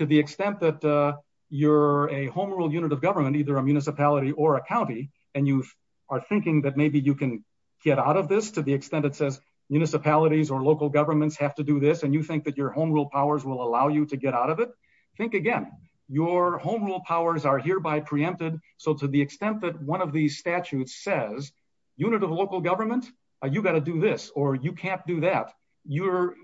to the extent that you're a home rule unit of government either a municipality or a county and you are thinking that maybe you can get out of this to the extent it says municipalities or local governments have to do this and you think that your home rule powers will allow you to get out of it think again your home rule powers are hereby preempted so to the extent that one of these statutes says unit of local government you got to do this or you can't do that you're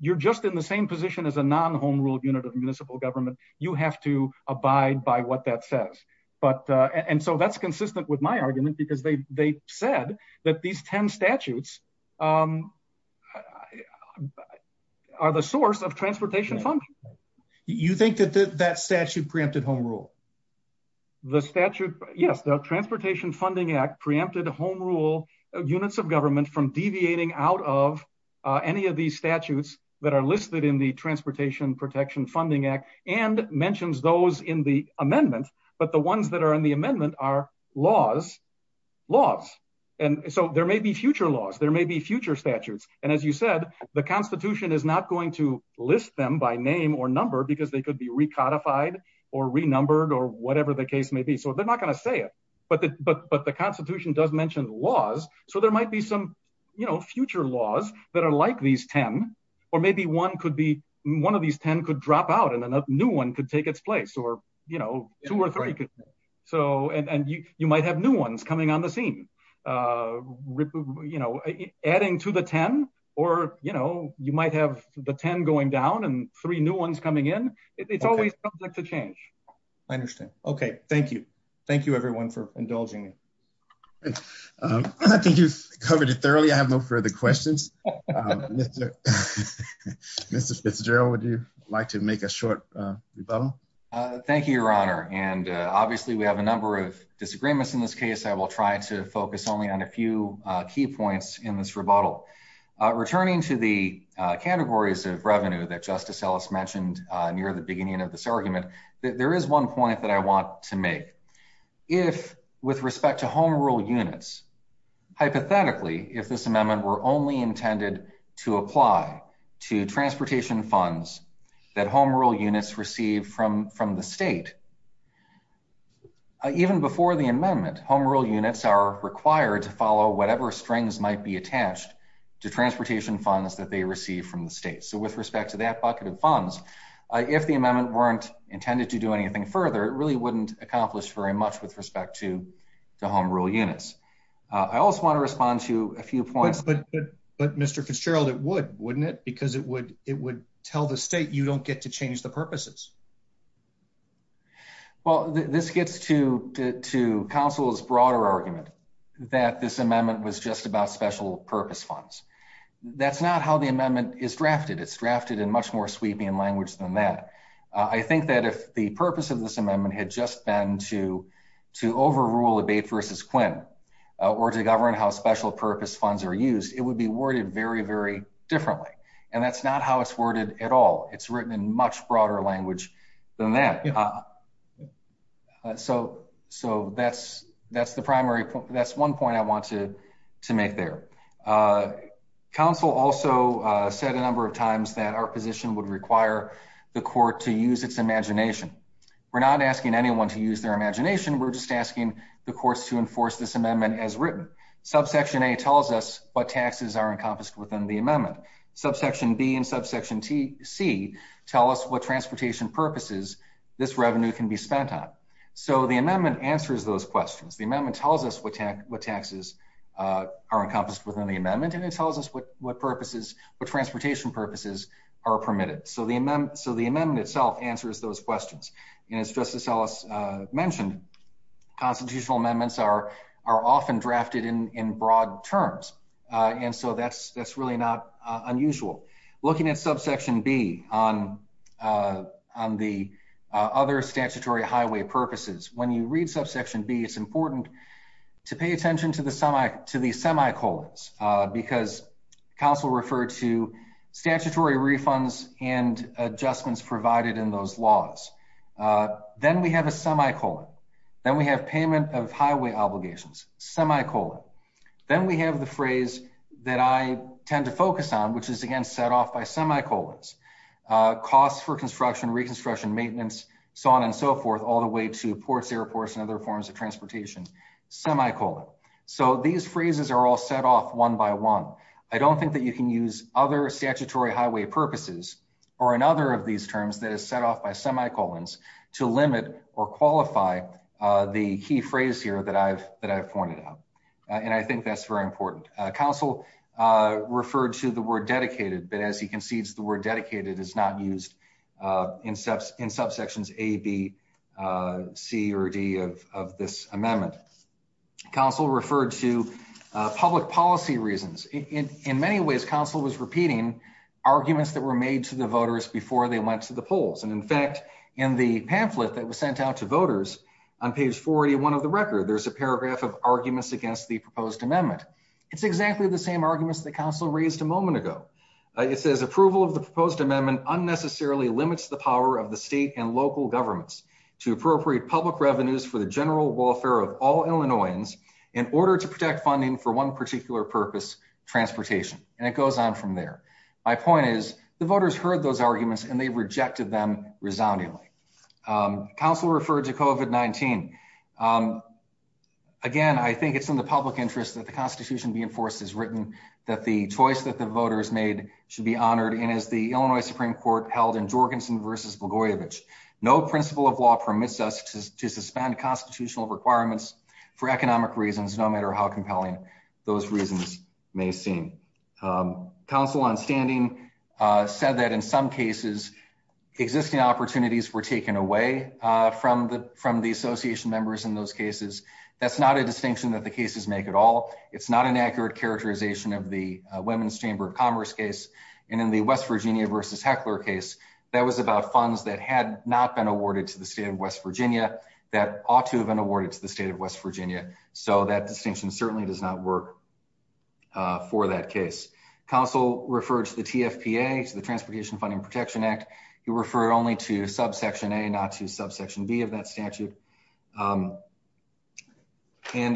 you're just in the same position as a non home rule unit of municipal government you have to abide by what that says but and so that's consistent with my argument because they said that these ten statutes are the source of transportation function you think that that statute preempted home rule the statute yes the Transportation Funding Act preempted a home rule units of government from deviating out of any of these statutes that are listed in the Transportation Protection Funding Act and mentions those in the amendment but the ones that are in the amendment are laws laws and so there may be future laws there may be future statutes and as you said the Constitution is not going to list them by name or number because they could be recodified or renumbered or whatever the case may be so they're not going to say it but but but the Constitution does mention laws so there might be some you know future laws that are like these ten or maybe one could be one of these ten could drop out and another new one could take its place or you know two or three so and you might have new ones coming on the scene you know adding to the ten or you know you might have the ten going down and three new ones coming in it's always subject to change I understand okay thank you thank you everyone for indulging I think you've covered it thoroughly I have no thank you your honor and obviously we have a number of disagreements in this case I will try to focus only on a few key points in this rebuttal returning to the categories of revenue that justice Ellis mentioned near the beginning of this argument that there is one point that I want to make if with respect to Home Rule units hypothetically if this amendment were only intended to apply to units received from from the state even before the amendment Home Rule units are required to follow whatever strings might be attached to transportation funds that they receive from the state so with respect to that bucket of funds if the amendment weren't intended to do anything further it really wouldn't accomplish very much with respect to the Home Rule units I also want to respond to a few points but but mr. Fitzgerald it would wouldn't it because it would it don't get to change the purposes well this gets to to counsel's broader argument that this amendment was just about special-purpose funds that's not how the amendment is drafted it's drafted in much more sweeping and language than that I think that if the purpose of this amendment had just been to to overrule the bait versus Quinn or to govern how special-purpose funds are used it would be worried very very differently and that's not how it's worded at all it's written in much broader language than that so so that's that's the primary that's one point I wanted to make their counsel also said a number of times that our position would require the court to use its imagination we're not asking anyone to use their imagination we're just asking the courts to enforce this amendment as written subsection a tells us what taxes are encompassed within the amendment subsection B and subsection TC tell us what transportation purposes this revenue can be spent on so the amendment answers those questions the amendment tells us what taxes are encompassed within the amendment and it tells us what what purposes what transportation purposes are permitted so the amendment so the amendment itself answers those questions and it's just to sell us mentioned constitutional amendments are often drafted in broad terms and so that's that's really not unusual looking at subsection B on on the other statutory highway purposes when you read subsection B it's important to pay attention to the summit to these semicolons because counsel referred to statutory refunds and adjustments provided in those laws then we have a semicolon then we have payment of highway obligations semicolon then we have the phrase that I tend to focus on which is again set off by semicolons costs for construction reconstruction maintenance so on and so forth all the way to Ports Air Force and other forms of transportation semicolon so these phrases are all set off one by one I don't think that you can use other statutory highway purposes or another of these terms that is set off by semicolons to limit or qualify the key phrase here that I've that I've pointed out and I think that's very important counsel referred to the word dedicated but as he concedes the word dedicated is not used in steps in subsections a B C or D of this amendment counsel referred to public policy reasons in many ways counsel was repeating arguments that were made to the voters before they went to the polls and in fact in the pamphlet that was sent out to voters on page 481 of the record there's a paragraph of arguments against the proposed amendment it's exactly the same arguments the council raised a moment ago it says approval of the proposed amendment unnecessarily limits the power of the state and local governments to appropriate public revenues for the general welfare of all Illinoisans in order to protect funding for one particular purpose transportation and it goes on from there my point is the voters heard those arguments and they rejected them resoundingly council referred to Kovac 19 again I think it's in the public interest that the Constitution be enforced as written that the choice that the voters made should be honored and as the Illinois Supreme Court held in Jorgensen versus Bogoyevich no principle of law permits us to suspend constitutional requirements for economic reasons no matter how compelling those reasons may seem council on standing said that in some cases existing opportunities were taken away from the from the Association members in those cases that's not a distinction that the cases make at all it's not an accurate characterization of the Women's Chamber of Commerce case and in the West Virginia versus heckler case that was about funds that had not been awarded to the state of West Virginia that ought to have been awarded to the state of West Virginia so that distinction certainly does not work for that case council refers to the TFPA to the Transportation Funding Protection Act you refer only to subsection a not to subsection B of that statute and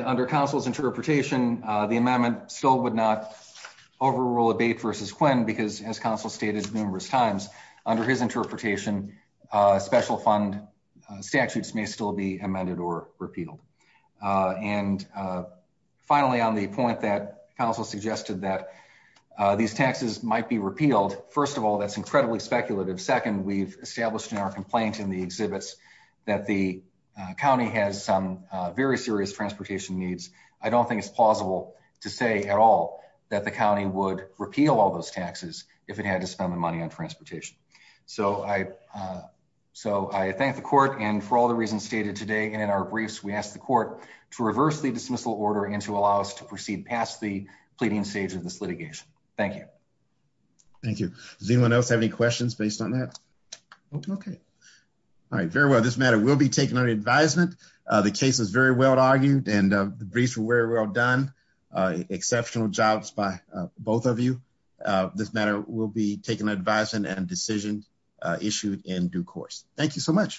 under councils interpretation the amendment still would not overrule a base versus Quinn because as counsel stated numerous times under his interpretation special fund statutes may still be amended or repealed and finally on the point that counsel suggested that these taxes might be repealed first of all that's incredibly speculative second we've established in our complaint in the exhibits that the county has some very serious transportation needs I don't think it's plausible to say at all that the county would repeal all those taxes if it had to spend the money on transportation so I so I thank the court and for all the reasons stated today in our briefs we asked the court to reverse the dismissal order and to allow us to proceed past the pleading stage of this litigation thank you thank you does anyone else have any questions based on that okay all right very well this matter will be taken on advisement the case was very well argued and the briefs were very well done exceptional jobs by both of you this matter will be taken advisement and decision issued in due course thank you so much